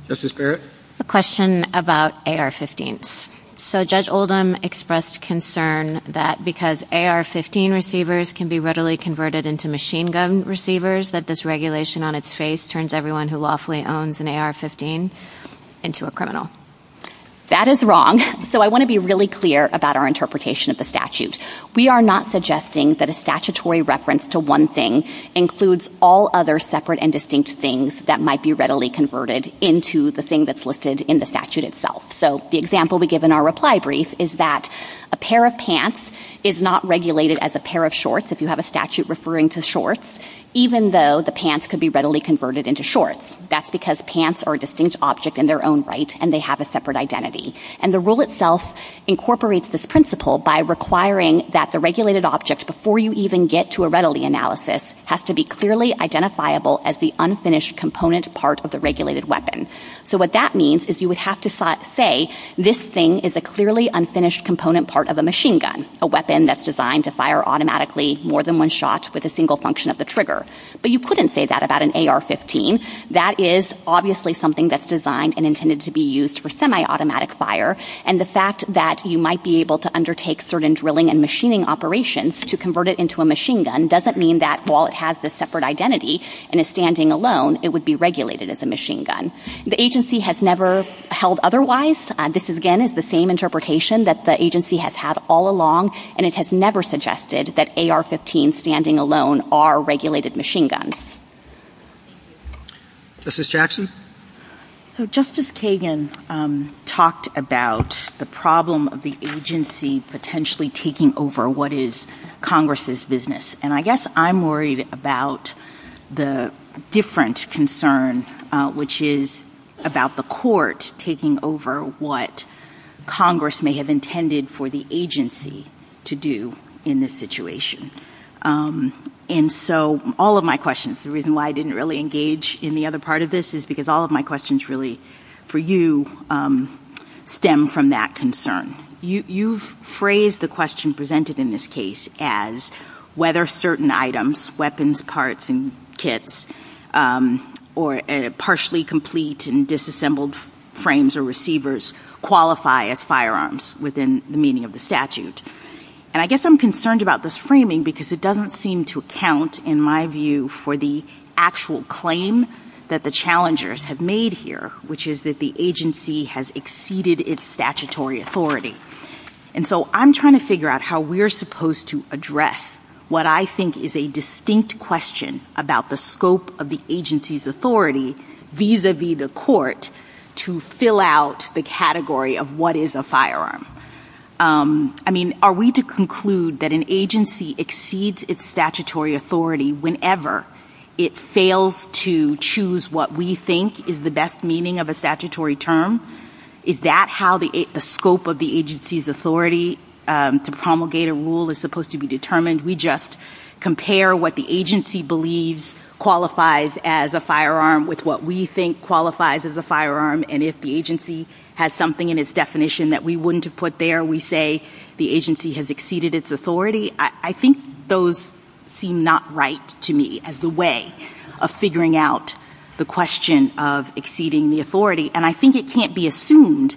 Justice Barrett? A question about AR-15s. So Judge Oldham expressed concern that because AR-15 receivers can be readily converted into machine gun receivers that this regulation on its face turns everyone who lawfully owns an AR-15 into a criminal. That is wrong. So I want to be really clear about our interpretation of the statute. We are not suggesting that a statutory reference to one thing includes all other separate and distinct things that might be readily converted into the thing that's listed in the statute itself. So the example we give in our reply brief is that a pair of pants is not regulated as a pair of shorts if you have a statute referring to shorts, even though the pants could be readily converted into shorts. That's because pants are a distinct object in their own right and they have a separate identity. And the rule itself incorporates this principle by requiring that the regulated object, before you even get to a readily analysis, has to be clearly identifiable as the unfinished component part of the regulated weapon. So what that means is you would have to say this thing is a clearly unfinished component part of a machine gun, a weapon that's designed to fire automatically more than one shot with a single function of the trigger. But you couldn't say that about an AR-15. That is obviously something that's designed and intended to be used for semi-automatic fire, and the fact that you might be able to undertake certain drilling and machining operations to convert it into a machine gun doesn't mean that while it has this separate identity and is standing alone, it would be regulated as a machine gun. The agency has never held otherwise. This, again, is the same interpretation that the agency has had all along, and it has never suggested that AR-15s standing alone are regulated machine guns. Justice Jackson? So Justice Kagan talked about the problem of the agency potentially taking over what is Congress's business, and I guess I'm worried about the different concern, which is about the court taking over what Congress may have intended for the agency to do in this situation. And so all of my questions, the reason why I didn't really engage in the other part of this is because all of my questions really, for you, stem from that concern. You've phrased the question presented in this case as whether certain items, weapons, parts, and kits, or partially complete and disassembled frames or receivers qualify as firearms within the meaning of the statute. And I guess I'm concerned about this framing because it doesn't seem to account, in my view, for the actual claim that the challengers have made here, which is that the agency has exceeded its statutory authority. And so I'm trying to figure out how we're supposed to address what I think is a distinct question about the scope of the agency's authority vis-a-vis the court to fill out the category of what is a firearm. I mean, are we to conclude that an agency exceeds its statutory authority whenever it fails to choose what we think is the best meaning of a statutory term? Is that how the scope of the agency's authority to promulgate a rule is supposed to be determined? We just compare what the agency believes qualifies as a firearm with what we think qualifies as a firearm, and if the agency has something in its definition that we wouldn't have put there, we say the agency has exceeded its authority? I think those seem not right to me as a way of figuring out the question of exceeding the authority. And I think it can't be assumed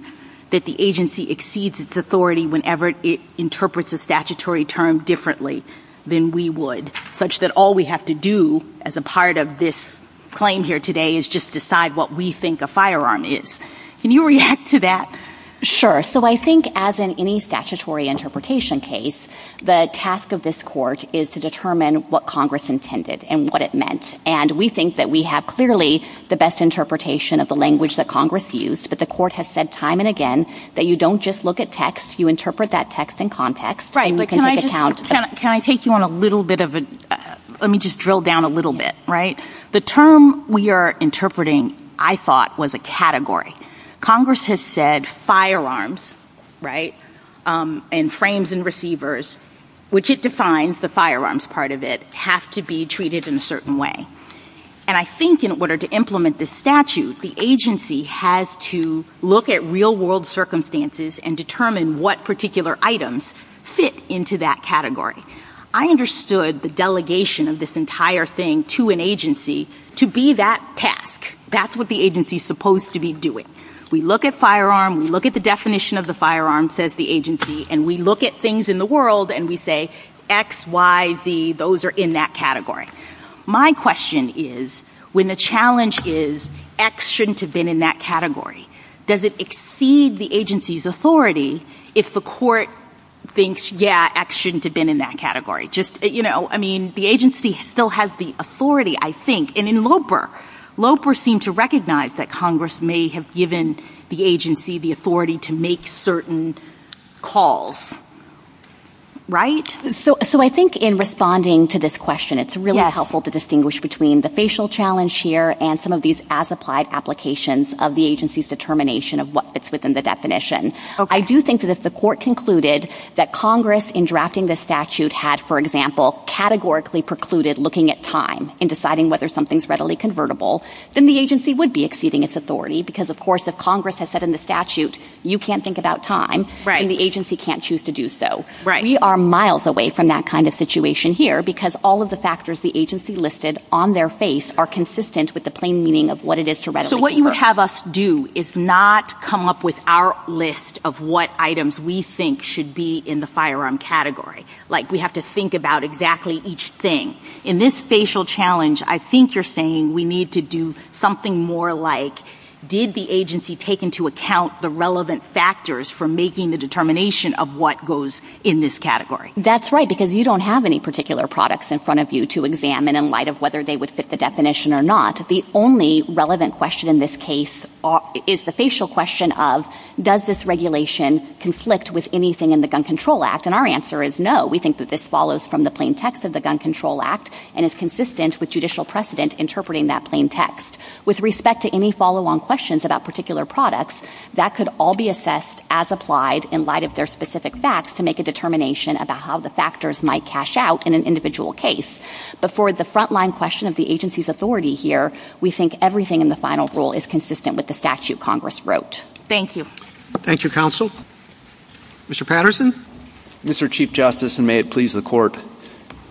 that the agency exceeds its authority whenever it interprets a statutory term differently than we would, such that all we have to do as a part of this claim here today is just decide what we think a firearm is. Can you react to that? Sure. So I think as in any statutory interpretation case, the task of this court is to determine what Congress intended and what it meant. And we think that we have clearly the best interpretation of the language that Congress used, but the court has said time and again that you don't just look at text, you interpret that text in context. Right, but can I take you on a little bit of a... Let me just drill down a little bit, right? The term we are interpreting, I thought, was a category. Congress has said firearms, right, and frames and receivers, which it defines, the firearms part of it, have to be treated in a certain way. And I think in order to implement this statute, the agency has to look at real-world circumstances and determine what particular items fit into that category. I understood the delegation of this entire thing to an agency to be that task. That's what the agency is supposed to be doing. We look at firearm, we look at the definition of the firearm, says the agency, and we look at things in the world and we say X, Y, Z, those are in that category. My question is, when the challenge is X shouldn't have been in that category, does it exceed the agency's authority if the court thinks, yeah, X shouldn't have been in that category? Just, you know, I mean, the agency still has the authority, I think. And in LOPR, LOPR seemed to recognize that Congress may have given the agency the authority to make certain calls, right? So I think in responding to this question, it's really helpful to distinguish between the facial challenge here and some of these as-applied applications of the agency's determination of what fits within the definition. I do think that if the court concluded that Congress, in drafting this statute, had, for example, categorically precluded looking at time in deciding whether something's readily convertible, then the agency would be exceeding its authority because, of course, if Congress has said in the statute, you can't think about time, then the agency can't choose to do so. We are miles away from that kind of situation here because all of the factors the agency listed on their face are consistent with the plain meaning of what it is to readily convert. So what you have us do is not come up with our list of what items we think should be in the firearm category. Like, we have to think about exactly each thing. In this facial challenge, I think you're saying we need to do something more like, did the agency take into account the relevant factors for making the determination of what goes in this category? That's right, because you don't have any particular products in front of you to examine in light of whether they would fit the definition or not. The only relevant question in this case is the facial question of, does this regulation conflict with anything in the Gun Control Act? And our answer is no. We think that this follows from the plain text of the Gun Control Act and is consistent with judicial precedent interpreting that plain text. With respect to any follow-on questions about particular products, that could all be assessed as applied in light of their specific facts to make a determination about how the factors might cash out in an individual case. But for the front-line question of the agency's authority here, we think everything in the final rule is consistent with the statute Congress wrote. Thank you. Thank you, Counsel. Mr. Patterson? Mr. Chief Justice, and may it please the Court,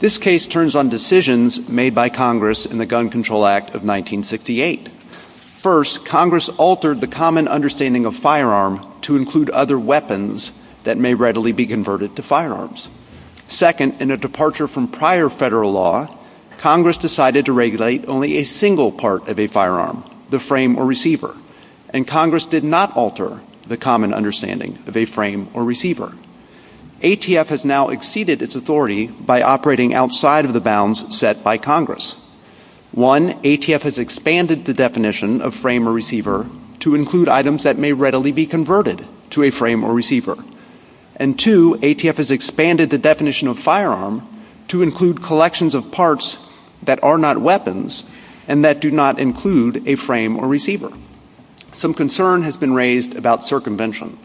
this case turns on decisions made by Congress in the Gun Control Act of 1968. First, Congress altered the common understanding of firearm to include other weapons that may readily be converted to firearms. Second, in a departure from prior federal law, Congress decided to regulate only a single part of a firearm, the frame or receiver, and Congress did not alter the common understanding of a frame or receiver. ATF has now exceeded its authority by operating outside of the bounds set by Congress. One, ATF has expanded the definition of frame or receiver to include items that may readily be converted to a frame or receiver. And two, ATF has expanded the definition of firearm to include collections of parts that are not weapons and that do not include a frame or receiver. Some concern has been raised about circumvention.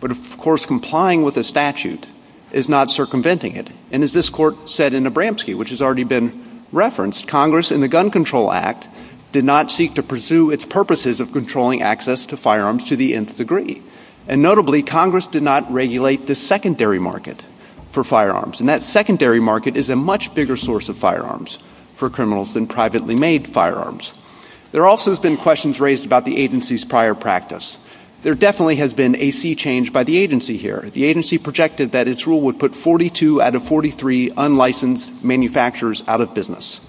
But, of course, complying with the statute is not circumventing it. And as this Court said in Abramski, which has already been referenced, Congress in the Gun Control Act did not seek to pursue its purposes of controlling access to firearms to the nth degree. And notably, Congress did not regulate the secondary market for firearms. And that secondary market is a much bigger source of firearms for criminals than privately made firearms. There also have been questions raised about the agency's prior practice. There definitely has been a sea change by the agency here. The agency projected that its rule would put 42 out of 43 unlicensed manufacturers out of business.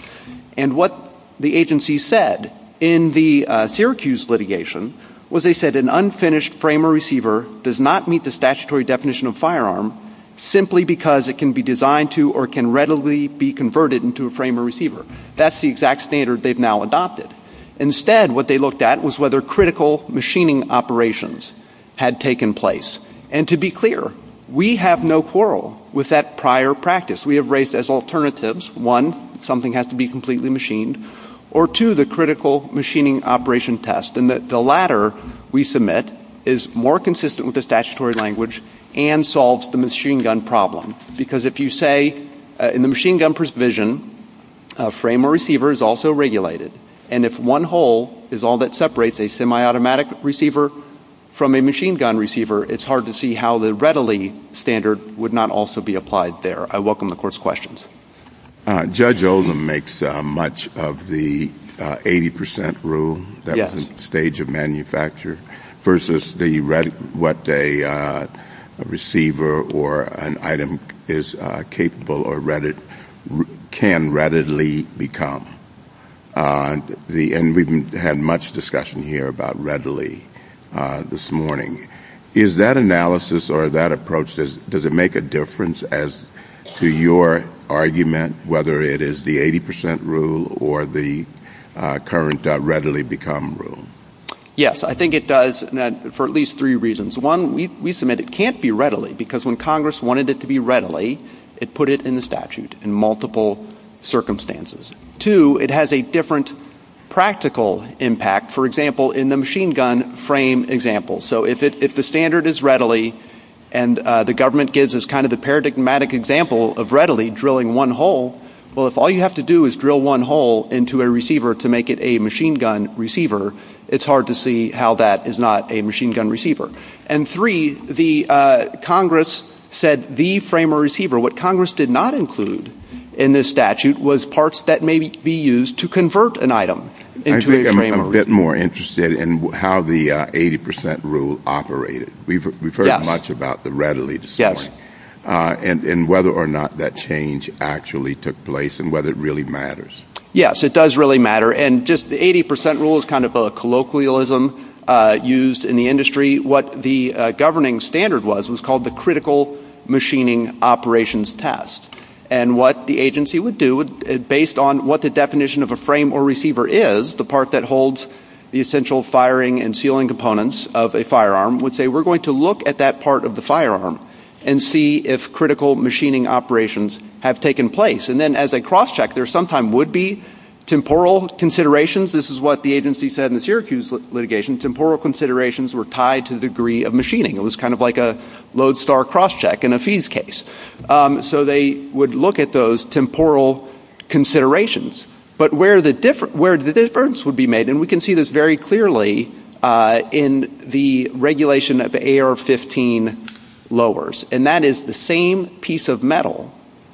And what the agency said in the Syracuse litigation was they said an unfinished frame or receiver does not meet the statutory definition of firearm simply because it can be designed to or can readily be converted into a frame or receiver. That's the exact standard they've now adopted. Instead, what they looked at was whether critical machining operations had taken place. And to be clear, we have no quarrel with that prior practice. We have raised as alternatives, one, something has to be completely machined, or two, the critical machining operation test. And the latter, we submit, is more consistent with the statutory language and solves the machine gun problem. Because if you say, in the machine gun provision, a frame or receiver is also regulated. And if one hole is all that separates a semi-automatic receiver from a machine gun receiver, it's hard to see how the readily standard would not also be applied there. I welcome the Court's questions. Judge Oldham makes much of the 80% rule that is the stage of manufacture versus what a receiver or an item is capable or can readily become. And we've had much discussion here about readily this morning. Is that analysis or that approach, does it make a difference as to your argument, whether it is the 80% rule or the current readily become rule? Yes, I think it does for at least three reasons. One, we submit it can't be readily because when Congress wanted it to be readily, it put it in the statute in multiple circumstances. Two, it has a different practical impact, for example, in the machine gun frame example. So if the standard is readily and the government gives us kind of the paradigmatic example of readily drilling one hole, well, if all you have to do is drill one hole into a receiver to make it a machine gun receiver, it's hard to see how that is not a machine gun receiver. And three, Congress said the frame or receiver, what Congress did not include in this statute was parts that may be used to convert an item. I think I'm a bit more interested in how the 80% rule operated. We've heard much about the readily this morning and whether or not that change actually took place and whether it really matters. Yes, it does really matter, and just the 80% rule is kind of a colloquialism used in the industry. What the governing standard was was called the critical machining operations test. And what the agency would do, based on what the definition of a frame or receiver is, the part that holds the essential firing and sealing components of a firearm, would say we're going to look at that part of the firearm and see if critical machining operations have taken place. And then as a cross-check, there sometime would be temporal considerations. This is what the agency said in the Syracuse litigation. Temporal considerations were tied to the degree of machining. It was kind of like a lodestar cross-check in a fees case. So they would look at those temporal considerations. But where the difference would be made, and we can see this very clearly in the regulation of AR-15 lowers, and that is the same piece of metal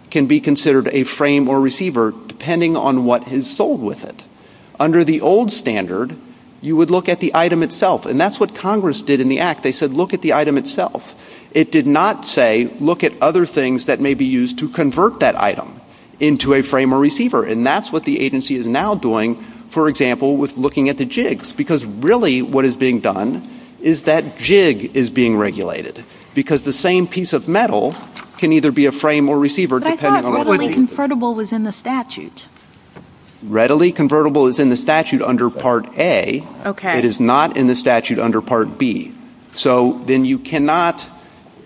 can be considered a frame or receiver depending on what is sold with it. Under the old standard, you would look at the item itself, and that's what Congress did in the Act. They said look at the item itself. It did not say look at other things that may be used to convert that item into a frame or receiver. And that's what the agency is now doing, for example, with looking at the jigs. Because really what is being done is that jig is being regulated. Because the same piece of metal can either be a frame or receiver depending on... But I thought readily convertible was in the statute. Readily convertible is in the statute under Part A. Okay. It is not in the statute under Part B. So then you cannot...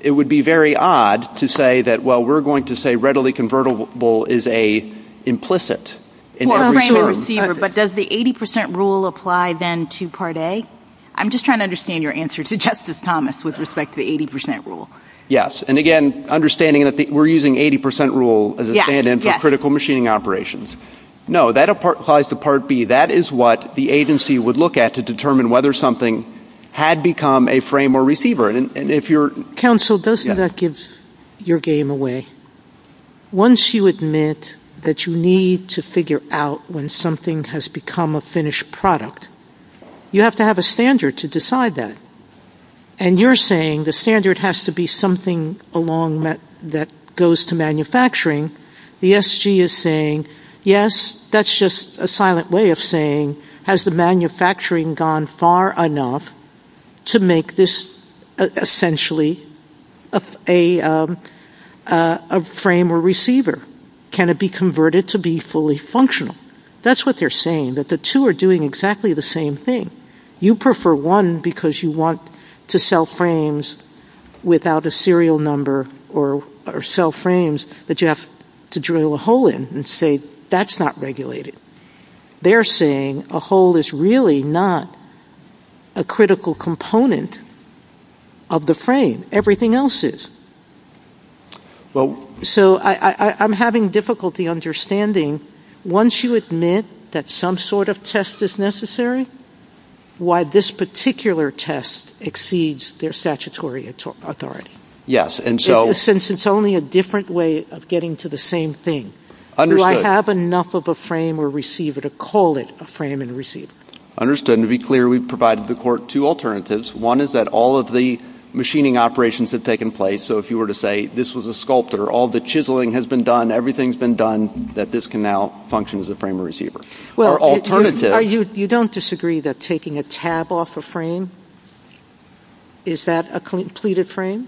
It would be very odd to say that, well, we're going to say readily convertible is an implicit... For a frame or receiver, but does the 80% rule apply then to Part A? I'm just trying to understand your answer to Justice Thomas with respect to the 80% rule. Yes, and again, understanding that we're using 80% rule as a stand-in for critical machining operations. No, that applies to Part B. That is what the agency would look at to determine whether something had become a frame or receiver. And if you're... Counsel, doesn't that give your game away? Once you admit that you need to figure out when something has become a finished product, you have to have a standard to decide that. And you're saying the standard has to be something along that goes to manufacturing. The SG is saying, yes, that's just a silent way of saying has the manufacturing gone far enough to make this essentially a frame or receiver? Can it be converted to be fully functional? That's what they're saying, that the two are doing exactly the same thing. You prefer one because you want to sell frames without a serial number or sell frames that you have to drill a hole in and say that's not regulated. They're saying a hole is really not a critical component of the frame. Everything else is. So I'm having difficulty understanding, once you admit that some sort of test is necessary, why this particular test exceeds their statutory authority. Yes, and so... Since it's only a different way of getting to the same thing. Understood. Do I have enough of a frame or receiver to call it a frame and receiver? Understood. To be clear, we've provided the court two alternatives. One is that all of the machining operations have taken place. So if you were to say this was a sculptor, all the chiseling has been done, everything's been done, that this can now function as a frame or receiver. Or alternative... You don't disagree that taking a tab off a frame, is that a completed frame?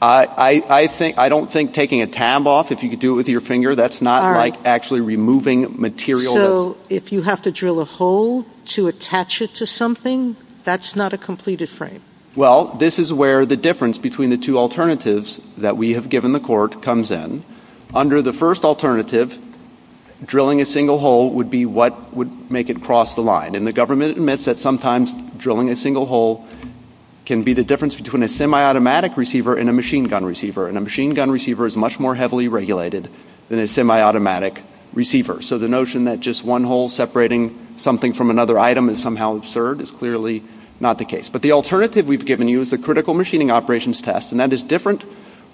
I don't think taking a tab off, if you could do it with your finger, that's not like actually removing material. So if you have to drill a hole to attach it to something, that's not a completed frame? Well, this is where the difference between the two alternatives that we have given the court comes in. Under the first alternative, drilling a single hole would be what would make it cross the line. And the government admits that sometimes drilling a single hole can be the difference between a semi-automatic receiver and a machine gun receiver. And a machine gun receiver is much more heavily regulated than a semi-automatic receiver. So the notion that just one hole separating something from another item is somehow absurd is clearly not the case. But the alternative we've given you is the critical machining operations test, and that is different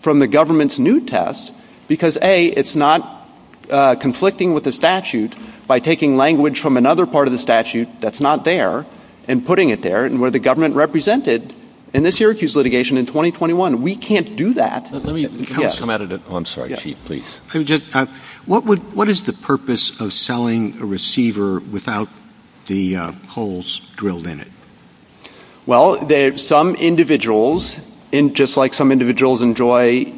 from the government's new test because, A, it's not conflicting with the statute by taking language from another part of the statute that's not there and putting it there, and where the government represented in this Syracuse litigation in 2021. We can't do that. Let me come out of the on-site sheet, please. What is the purpose of selling a receiver without the holes drilled in it? Well, some individuals, just like some individuals enjoy,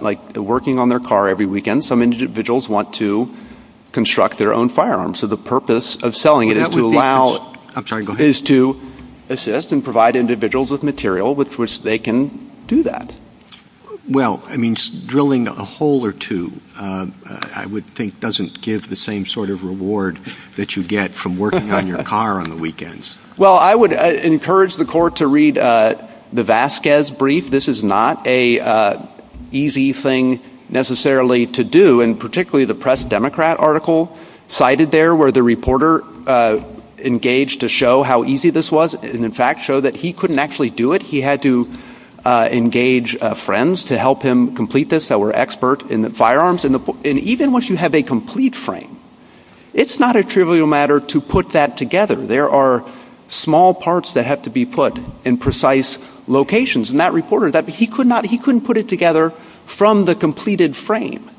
like, working on their car every weekend, some individuals want to construct their own firearms. So the purpose of selling it is to allow... I'm sorry, go ahead. ...is to assist and provide individuals with material with which they can do that. Well, I mean, drilling a hole or two, I would think, doesn't give the same sort of reward that you get from working on your car on the weekends. Well, I would encourage the court to read the Vasquez brief. This is not an easy thing necessarily to do, and particularly the Press Democrat article cited there where the reporter engaged to show how easy this was and, in fact, showed that he couldn't actually do it. He had to engage friends to help him complete this that were experts in the firearms. And even once you have a complete frame, it's not a trivial matter to put that together. There are small parts that have to be put in precise locations, and that reporter, he couldn't put it together from the completed frame.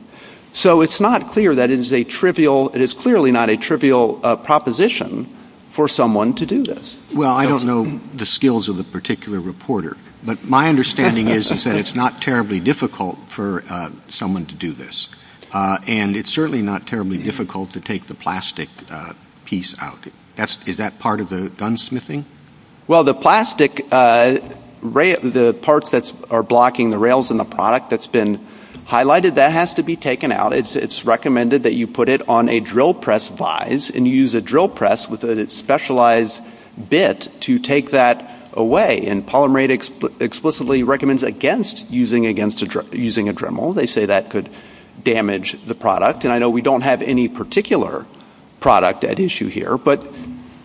So it's not clear that it is a trivial... It is clearly not a trivial proposition for someone to do this. Well, I don't know the skills of the particular reporter, but my understanding is that it's not terribly difficult for someone to do this, and it's certainly not terribly difficult to take the plastic piece out. Is that part of the gunsmithing? Well, the plastic, the parts that are blocking the rails in the product that's been highlighted, that has to be taken out. It's recommended that you put it on a drill press vise and use a drill press with a specialized bit to take that away. And Polymer Aid explicitly recommends against using a Dremel. They say that could damage the product. And I know we don't have any particular product at issue here, but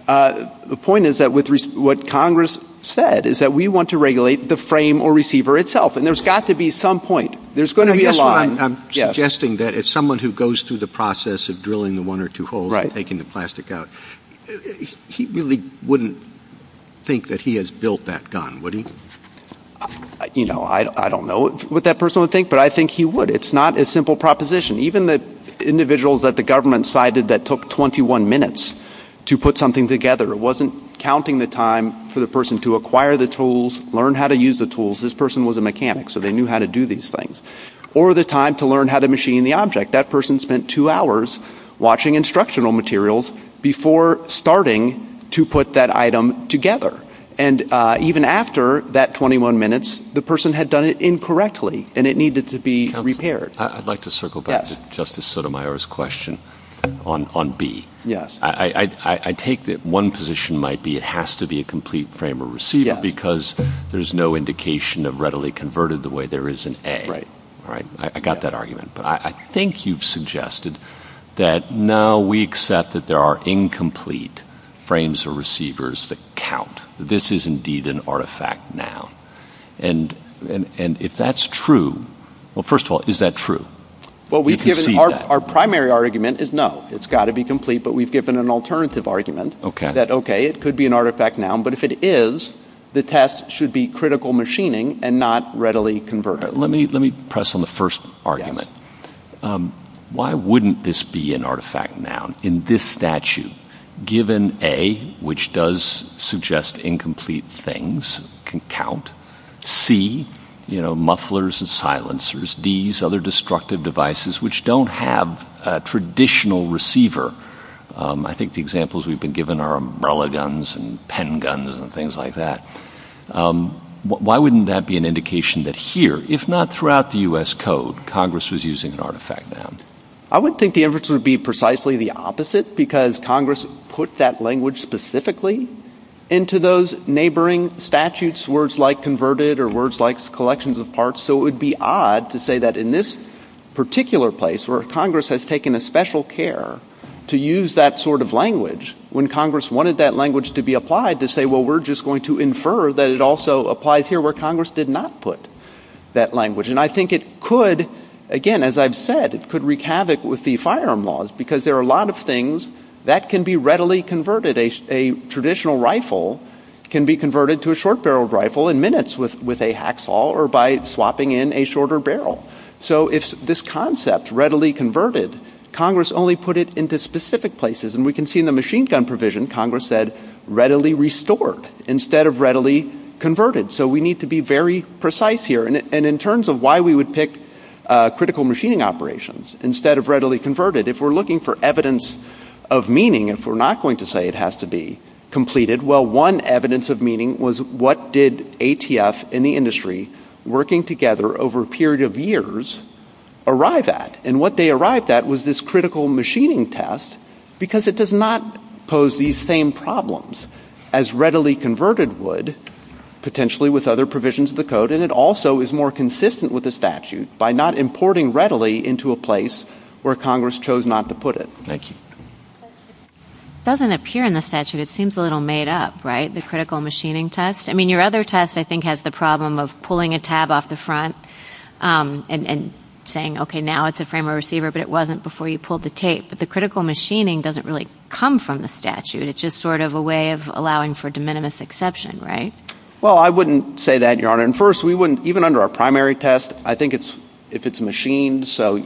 the point is that what Congress said is that we want to regulate the frame or receiver itself, and there's got to be some point. There's going to be a line. I'm suggesting that if someone who goes through the process of drilling the one or two holes and taking the plastic out, he really wouldn't think that he has built that gun, would he? You know, I don't know what that person would think, but I think he would. It's not a simple proposition. Even the individuals that the government cited that took 21 minutes to put something together, it wasn't counting the time for the person to acquire the tools, learn how to use the tools. This person was a mechanic, so they knew how to do these things. Or the time to learn how to machine the object. That person spent two hours watching instructional materials before starting to put that item together. And even after that 21 minutes, the person had done it incorrectly, and it needed to be repaired. I'd like to circle back to Justice Sotomayor's question on B. I take that one position might be it has to be a complete frame or receiver because there's no indication of readily converted the way there is in A. Right. I got that argument. But I think you've suggested that, no, we accept that there are incomplete frames or receivers that count. This is indeed an artifact now. And if that's true, well, first of all, is that true? Well, our primary argument is no. It's got to be complete, but we've given an alternative argument that, okay, it could be an artifact now, but if it is, the test should be critical machining and not readily converted. Let me press on the first argument. Why wouldn't this be an artifact now in this statute, given A, which does suggest incomplete things can count, C, you know, mufflers and silencers, Ds, other destructive devices, which don't have a traditional receiver? I think the examples we've been given are umbrella guns and pen guns and things like that. Why wouldn't that be an indication that here, if not throughout the U.S. Code, Congress was using an artifact now? I would think the inference would be precisely the opposite because Congress put that language specifically into those neighboring statutes, words like converted or words like collections of parts, so it would be odd to say that in this particular place where Congress has taken a special care to use that sort of language when Congress wanted that language to be applied to say, well, we're just going to infer that it also applies here where Congress did not put that language. And I think it could, again, as I've said, it could wreak havoc with the firearm laws because there are a lot of things that can be readily converted. A traditional rifle can be converted to a short-barreled rifle in minutes with a hacksaw or by swapping in a shorter barrel. So if this concept, readily converted, Congress only put it into specific places. And we can see in the machine gun provision, Congress said readily restored instead of readily converted. So we need to be very precise here. And in terms of why we would pick critical machining operations instead of readily converted, if we're looking for evidence of meaning, if we're not going to say it has to be completed, well, one evidence of meaning was what did ATF and the industry working together over a period of years arrive at? And what they arrived at was this critical machining test because it does not pose these same problems as readily converted would, potentially with other provisions of the code, and it also is more consistent with the statute by not importing readily into a place where Congress chose not to put it. Thank you. It doesn't appear in the statute. It seems a little made up, right, the critical machining test? I mean, your other test, I think, has the problem of pulling a tab off the front and saying, okay, now it's a frame of receiver, but it wasn't before you pulled the tape. But the critical machining doesn't really come from the statute. It's just sort of a way of allowing for de minimis exception, right? Well, I wouldn't say that, Your Honor. And first, even under our primary test, I think if it's machined, so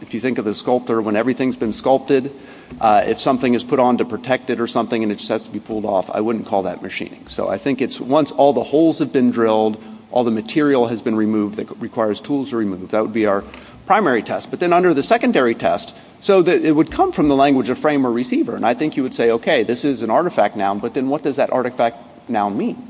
if you think of a sculptor, when everything's been sculpted, if something is put on to protect it or something and it has to be pulled off, I wouldn't call that machining. So I think it's once all the holes have been drilled, all the material has been removed that requires tools to be removed. That would be our primary test. But then under the secondary test, so it would come from the language of frame or receiver. And I think you would say, okay, this is an artifact now, but then what does that artifact now mean?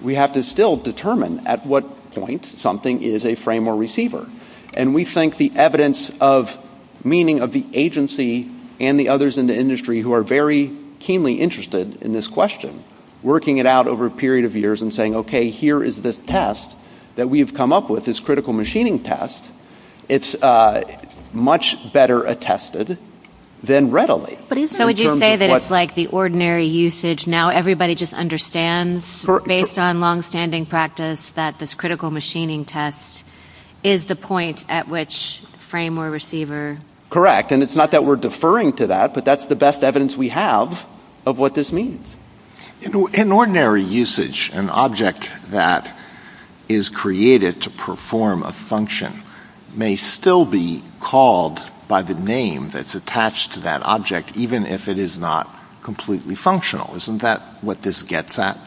We have to still determine at what point something is a frame or receiver. And we think the evidence of meaning of the agency and the others in the industry who are very keenly interested in this question, working it out over a period of years and saying, okay, here is this test that we've come up with, this critical machining test. It's much better attested than readily. So would you say that it's like the ordinary usage, now everybody just understands based on longstanding practice that this critical machining test is the point at which frame or receiver... Correct. And it's not that we're deferring to that, but that's the best evidence we have of what this means. In ordinary usage, an object that is created to perform a function may still be called by the name that's attached to that object, even if it is not completely functional. Isn't that what this gets at?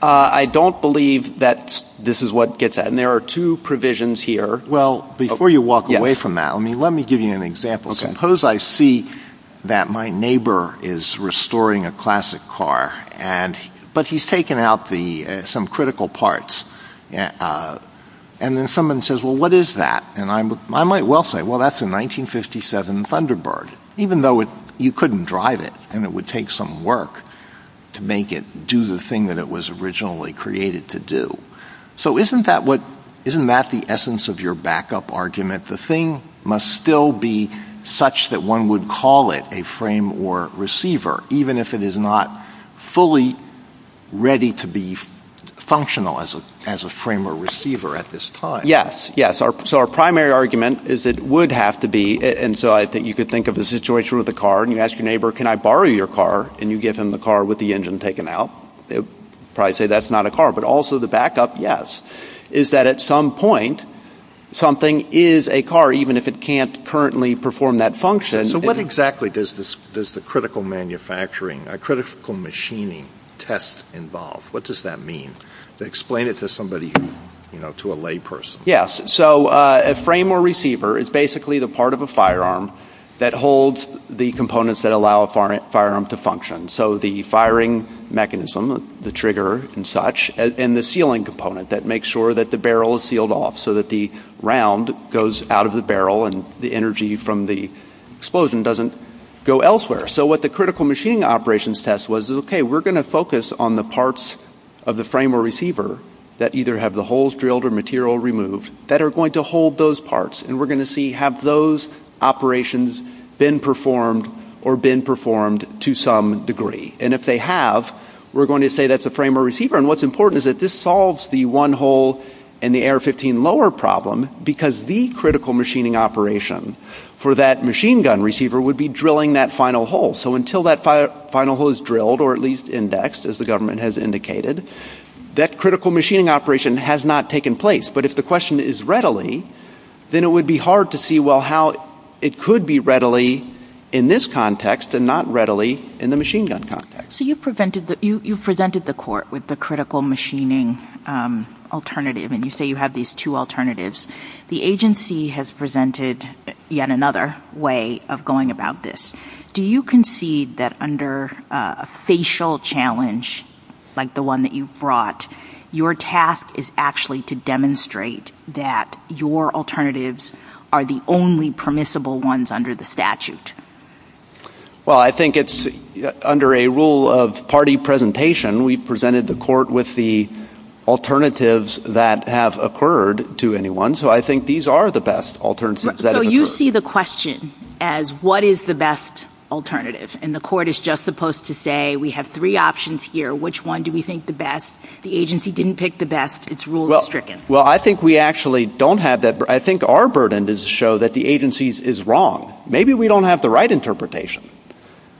I don't believe that this is what it gets at. And there are two provisions here. Well, before you walk away from that, let me give you an example. Suppose I see that my neighbor is restoring a classic car, but he's taken out some critical parts. And then someone says, well, what is that? And I might well say, well, that's a 1957 Thunderbird, even though you couldn't drive it and it would take some work to make it do the thing that it was originally created to do. So isn't that the essence of your backup argument? The thing must still be such that one would call it a frame or receiver, even if it is not fully ready to be functional as a frame or receiver at this time. Yes, yes. So our primary argument is it would have to be, and so I think you could think of the situation with a car and you ask your neighbor, can I borrow your car? And you give him the car with the engine taken out. Probably say that's not a car, but also the backup, yes, is that at some point something is a car, even if it can't currently perform that function. So what exactly does the critical manufacturing, a critical machining test involve? What does that mean? Explain it to somebody, to a layperson. Yes, so a frame or receiver is basically the part of a firearm that holds the components that allow a firearm to function. So the firing mechanism, the trigger and such, and the sealing component that makes sure that the barrel is sealed off so that the round goes out of the barrel and the energy from the explosion doesn't go elsewhere. So what the critical machining operations test was, okay, we're gonna focus on the parts of the frame or receiver that either have the holes drilled or material removed that are going to hold those parts, and we're gonna see, have those operations been performed or been performed to some degree? And if they have, we're going to say that's a frame or receiver, and what's important is that this solves the one hole in the AR-15 lower problem because the critical machining operation for that machine gun receiver would be drilling that final hole. So until that final hole is drilled, or at least indexed, as the government has indicated, that critical machining operation has not taken place. But if the question is readily, then it would be hard to see, well, how it could be readily in this context and not readily in the machine gun context. So you've presented the court with the critical machining alternative, and you say you have these two alternatives. The agency has presented yet another way of going about this. Do you concede that under a facial challenge like the one that you've brought, your task is actually to demonstrate that your alternatives are the only permissible ones under the statute? Well, I think it's under a rule of party presentation. We presented the court with the alternatives that have occurred to anyone, so I think these are the best alternatives that have occurred. So you see the question as, what is the best alternative? And the court is just supposed to say, we have three options here. Which one do we think the best? The agency didn't pick the best. It's rule-stricken. Well, I think we actually don't have that. I think our burden is to show that the agency is wrong. Maybe we don't have the right interpretation.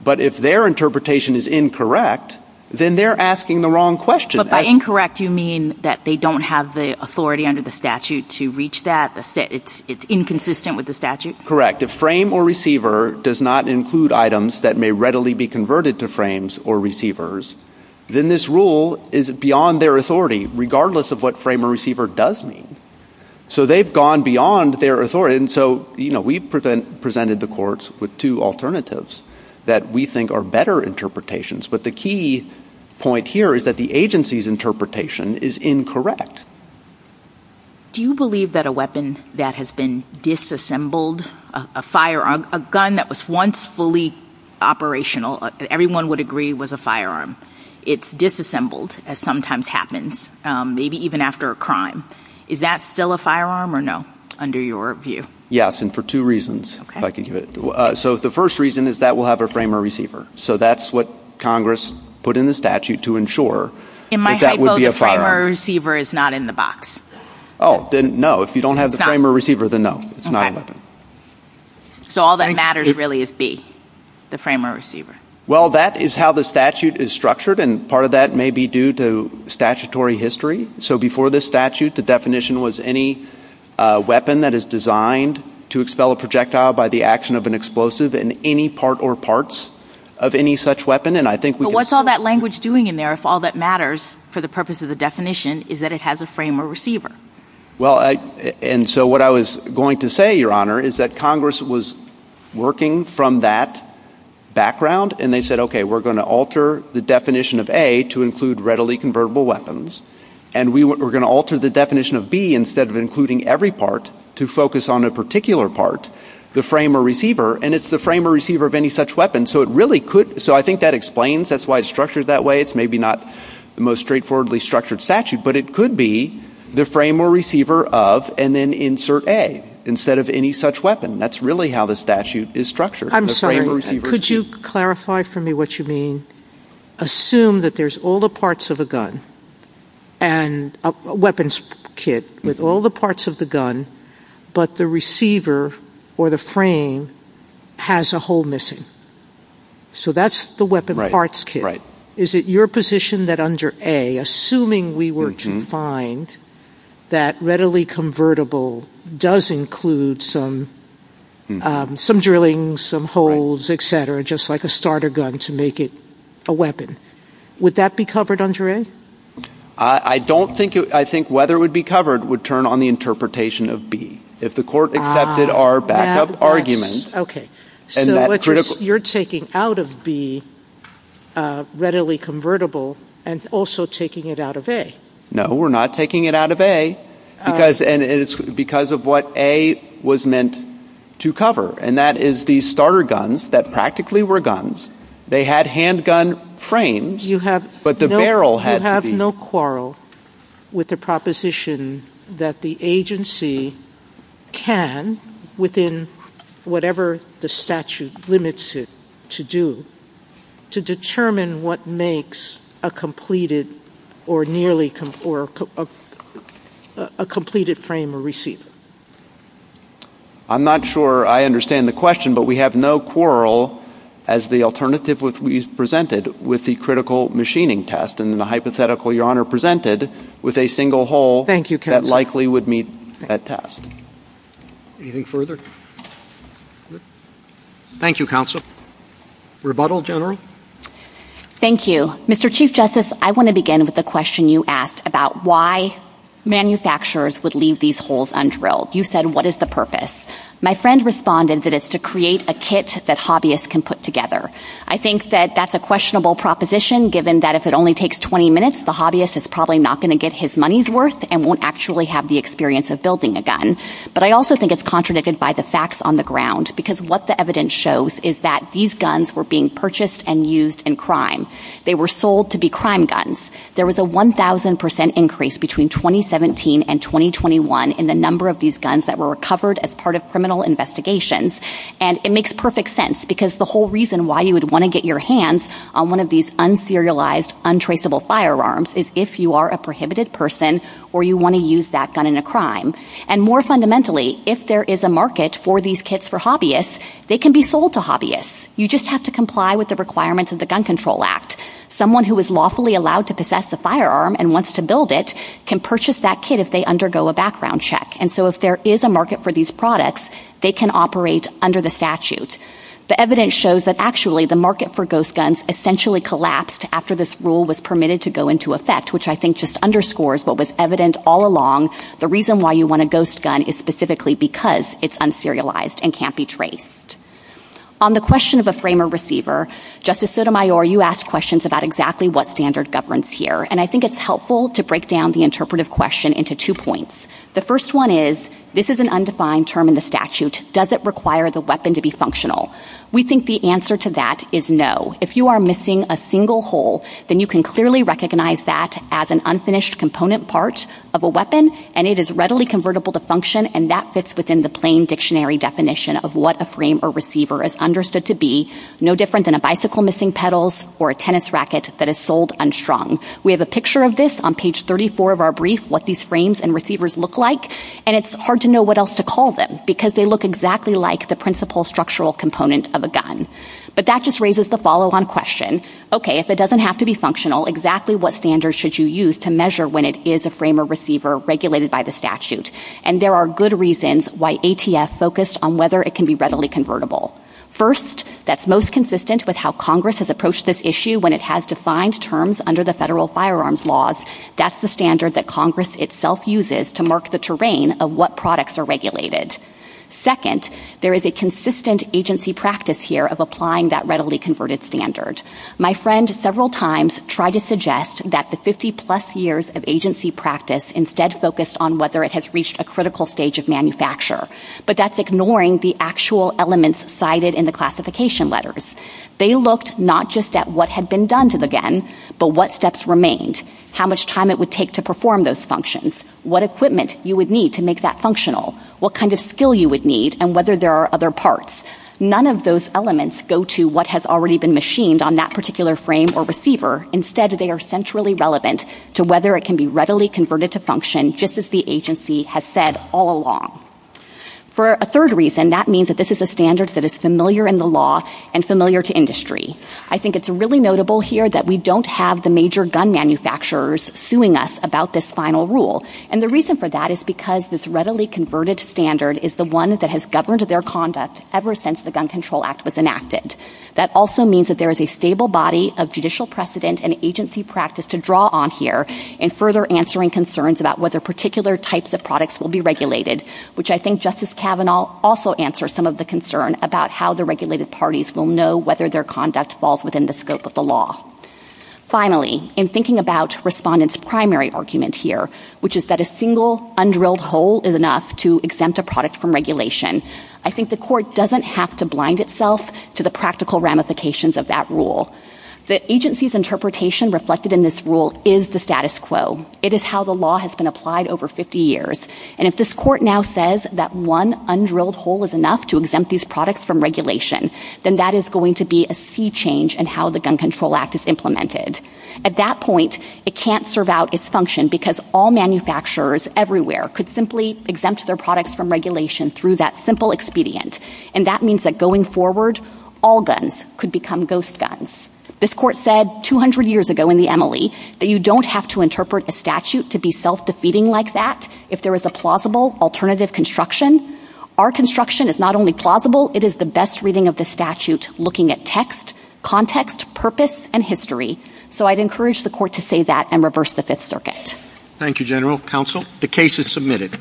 But if their interpretation is incorrect, then they're asking the wrong question. But by incorrect, you mean that they don't have the authority under the statute to reach that. It's inconsistent with the statute? If frame or receiver does not include items that may readily be converted to frames or receivers, then this rule is beyond their authority, regardless of what frame or receiver does mean. So they've gone beyond their authority. And so we presented the courts with two alternatives that we think are better interpretations. But the key point here is that the agency's interpretation is incorrect. Do you believe that a weapon that has been disassembled, a firearm, a gun that was once fully operational, everyone would agree was a firearm, it's disassembled, as sometimes happens, maybe even after a crime, is that still a firearm or no, under your view? Yes, and for two reasons, if I could get it. So the first reason is that we'll have a frame or receiver. So that's what Congress put in the statute to ensure that that would be a firearm. If the frame or receiver is not in the box? Oh, then no. If you don't have the frame or receiver, then no. It's not a weapon. So all that matters really is B, the frame or receiver. Well, that is how the statute is structured, and part of that may be due to statutory history. So before this statute, the definition was any weapon that is designed to expel a projectile by the action of an explosive in any part or parts of any such weapon. But what's all that language doing in there if all that matters for the purpose of the definition is that it has a frame or receiver? Well, and so what I was going to say, Your Honor, is that Congress was working from that background, and they said, okay, we're going to alter the definition of A to include readily convertible weapons, and we're going to alter the definition of B instead of including every part to focus on a particular part, the frame or receiver, and it's the frame or receiver of any such weapon, so it really could, so I think that explains, that's why it's structured that way. It's maybe not the most straightforwardly structured statute, but it could be the frame or receiver of, and then insert A instead of any such weapon. That's really how the statute is structured. I'm sorry, could you clarify for me what you mean? Assume that there's all the parts of a gun, a weapons kit with all the parts of the gun, but the receiver or the frame has a hole missing. So that's the weapon parts kit. Is it your position that under A, assuming we were to find that readily convertible does include some drilling, some holes, etc., just like a starter gun to make it a weapon, would that be covered under A? I don't think, I think whether it would be covered would turn on the interpretation of B. If the court accepted our backup argument, Okay, so you're taking out of B readily convertible and also taking it out of A. No, we're not taking it out of A, because of what A was meant to cover, and that is the starter guns that practically were guns. They had handgun frames, but the barrel had to be... You have no quarrel with the proposition that the agency can, within whatever the statute limits it to do, to determine what makes a completed or nearly completed frame a receiver? I'm not sure I understand the question, but we have no quarrel as the alternative we presented with the critical machining test and the hypothetical Your Honor presented with a single hole that likely would meet that task. Anything further? Thank you, counsel. Rebuttal, General? Thank you. Mr. Chief Justice, I want to begin with the question you asked about why manufacturers would leave these holes undrilled. You said, what is the purpose? My friend responded that it's to create a kit that hobbyists can put together. I think that that's a questionable proposition given that if it only takes 20 minutes, the hobbyist is probably not going to get his money's worth and won't actually have the experience of building a gun. But I also think it's contradicted by the facts on the ground because what the evidence shows is that these guns were being purchased and used in crime. They were sold to be crime guns. There was a 1,000% increase between 2017 and 2021 in the number of these guns that were recovered as part of criminal investigations. And it makes perfect sense because the whole reason why you would want to get your hands on one of these un-serialized, untraceable firearms is if you are a prohibited person or you want to use that gun in a crime. And more fundamentally, if there is a market for these kits for hobbyists, they can be sold to hobbyists. You just have to comply with the requirements of the Gun Control Act. Someone who is lawfully allowed to possess the firearm and wants to build it can purchase that kit if they undergo a background check. And so if there is a market for these products, they can operate under the statute. The evidence shows that, actually, the market for ghost guns essentially collapsed after this rule was permitted to go into effect, which I think just underscores what was evident all along. The reason why you want a ghost gun is specifically because it's un-serialized and can't be traced. On the question of a frame or receiver, Justice Sotomayor, you asked questions about exactly what standard governs here, and I think it's helpful to break down the interpretive question into two points. The first one is, this is an undefined term in the statute. Does it require the weapon to be functional? We think the answer to that is no. If you are missing a single hole, then you can clearly recognize that as an unfinished component part of a weapon, and it is readily convertible to function, and that fits within the plain dictionary definition of what a frame or receiver is understood to be, no different than a bicycle missing pedals or a tennis racket that is sold unstrung. We have a picture of this on page 34 of our brief, what these frames and receivers look like, and it's hard to know what else to call them because they look exactly like the principal structural component of a gun. But that just raises the follow-on question, okay, if it doesn't have to be functional, exactly what standard should you use to measure when it is a frame or receiver regulated by the statute? And there are good reasons why ATF focused on whether it can be readily convertible. First, that's most consistent with how Congress has approached this issue when it has defined terms under the federal firearms laws. That's the standard that Congress itself uses to mark the terrain of what products are regulated. Second, there is a consistent agency practice here of applying that readily converted standard. My friend several times tried to suggest that the 50-plus years of agency practice instead focused on whether it has reached a critical stage of manufacture, but that's ignoring the actual elements cited in the classification letters. They looked not just at what had been done to the gun, but what steps remained, how much time it would take to perform those functions, what equipment you would need to make that functional, what kind of skill you would need, and whether there are other parts. None of those elements go to what has already been machined on that particular frame or receiver. Instead, they are centrally relevant to whether it can be readily converted to function just as the agency has said all along. For a third reason, that means that this is a standard that is familiar in the law and familiar to industry. I think it's really notable here that we don't have the major gun manufacturers suing us about this final rule. And the reason for that is because this readily converted standard is the one that has governed their conduct ever since the Gun Control Act was enacted. That also means that there is a stable body of judicial precedent and agency practice to draw on here in further answering concerns about whether particular types of products will be regulated, which I think Justice Kavanaugh also answers some of the concern about how the regulated parties will know whether their conduct falls within the scope of the law. Finally, in thinking about respondents' primary argument here, which is that a single undrilled hole is enough to exempt a product from regulation, I think the court doesn't have to blind itself to the practical ramifications of that rule. The agency's interpretation reflected in this rule is the status quo. It is how the law has been applied over 50 years. And if this court now says that one undrilled hole is enough to exempt these products from regulation, then that is going to be a sea change in how the Gun Control Act is implemented. At that point, it can't serve out its function because all manufacturers everywhere could simply exempt their products from regulation through that simple expedient. And that means that going forward, all guns could become ghost guns. This court said 200 years ago in the MLE that you don't have to interpret a statute to be self-defeating like that if there is a plausible alternative construction. Our construction is not only plausible, it is the best reading of the statute looking at text, context, purpose, and history. So I'd encourage the court to say that and reverse the Fifth Circuit. Thank you, General Counsel. The case is submitted.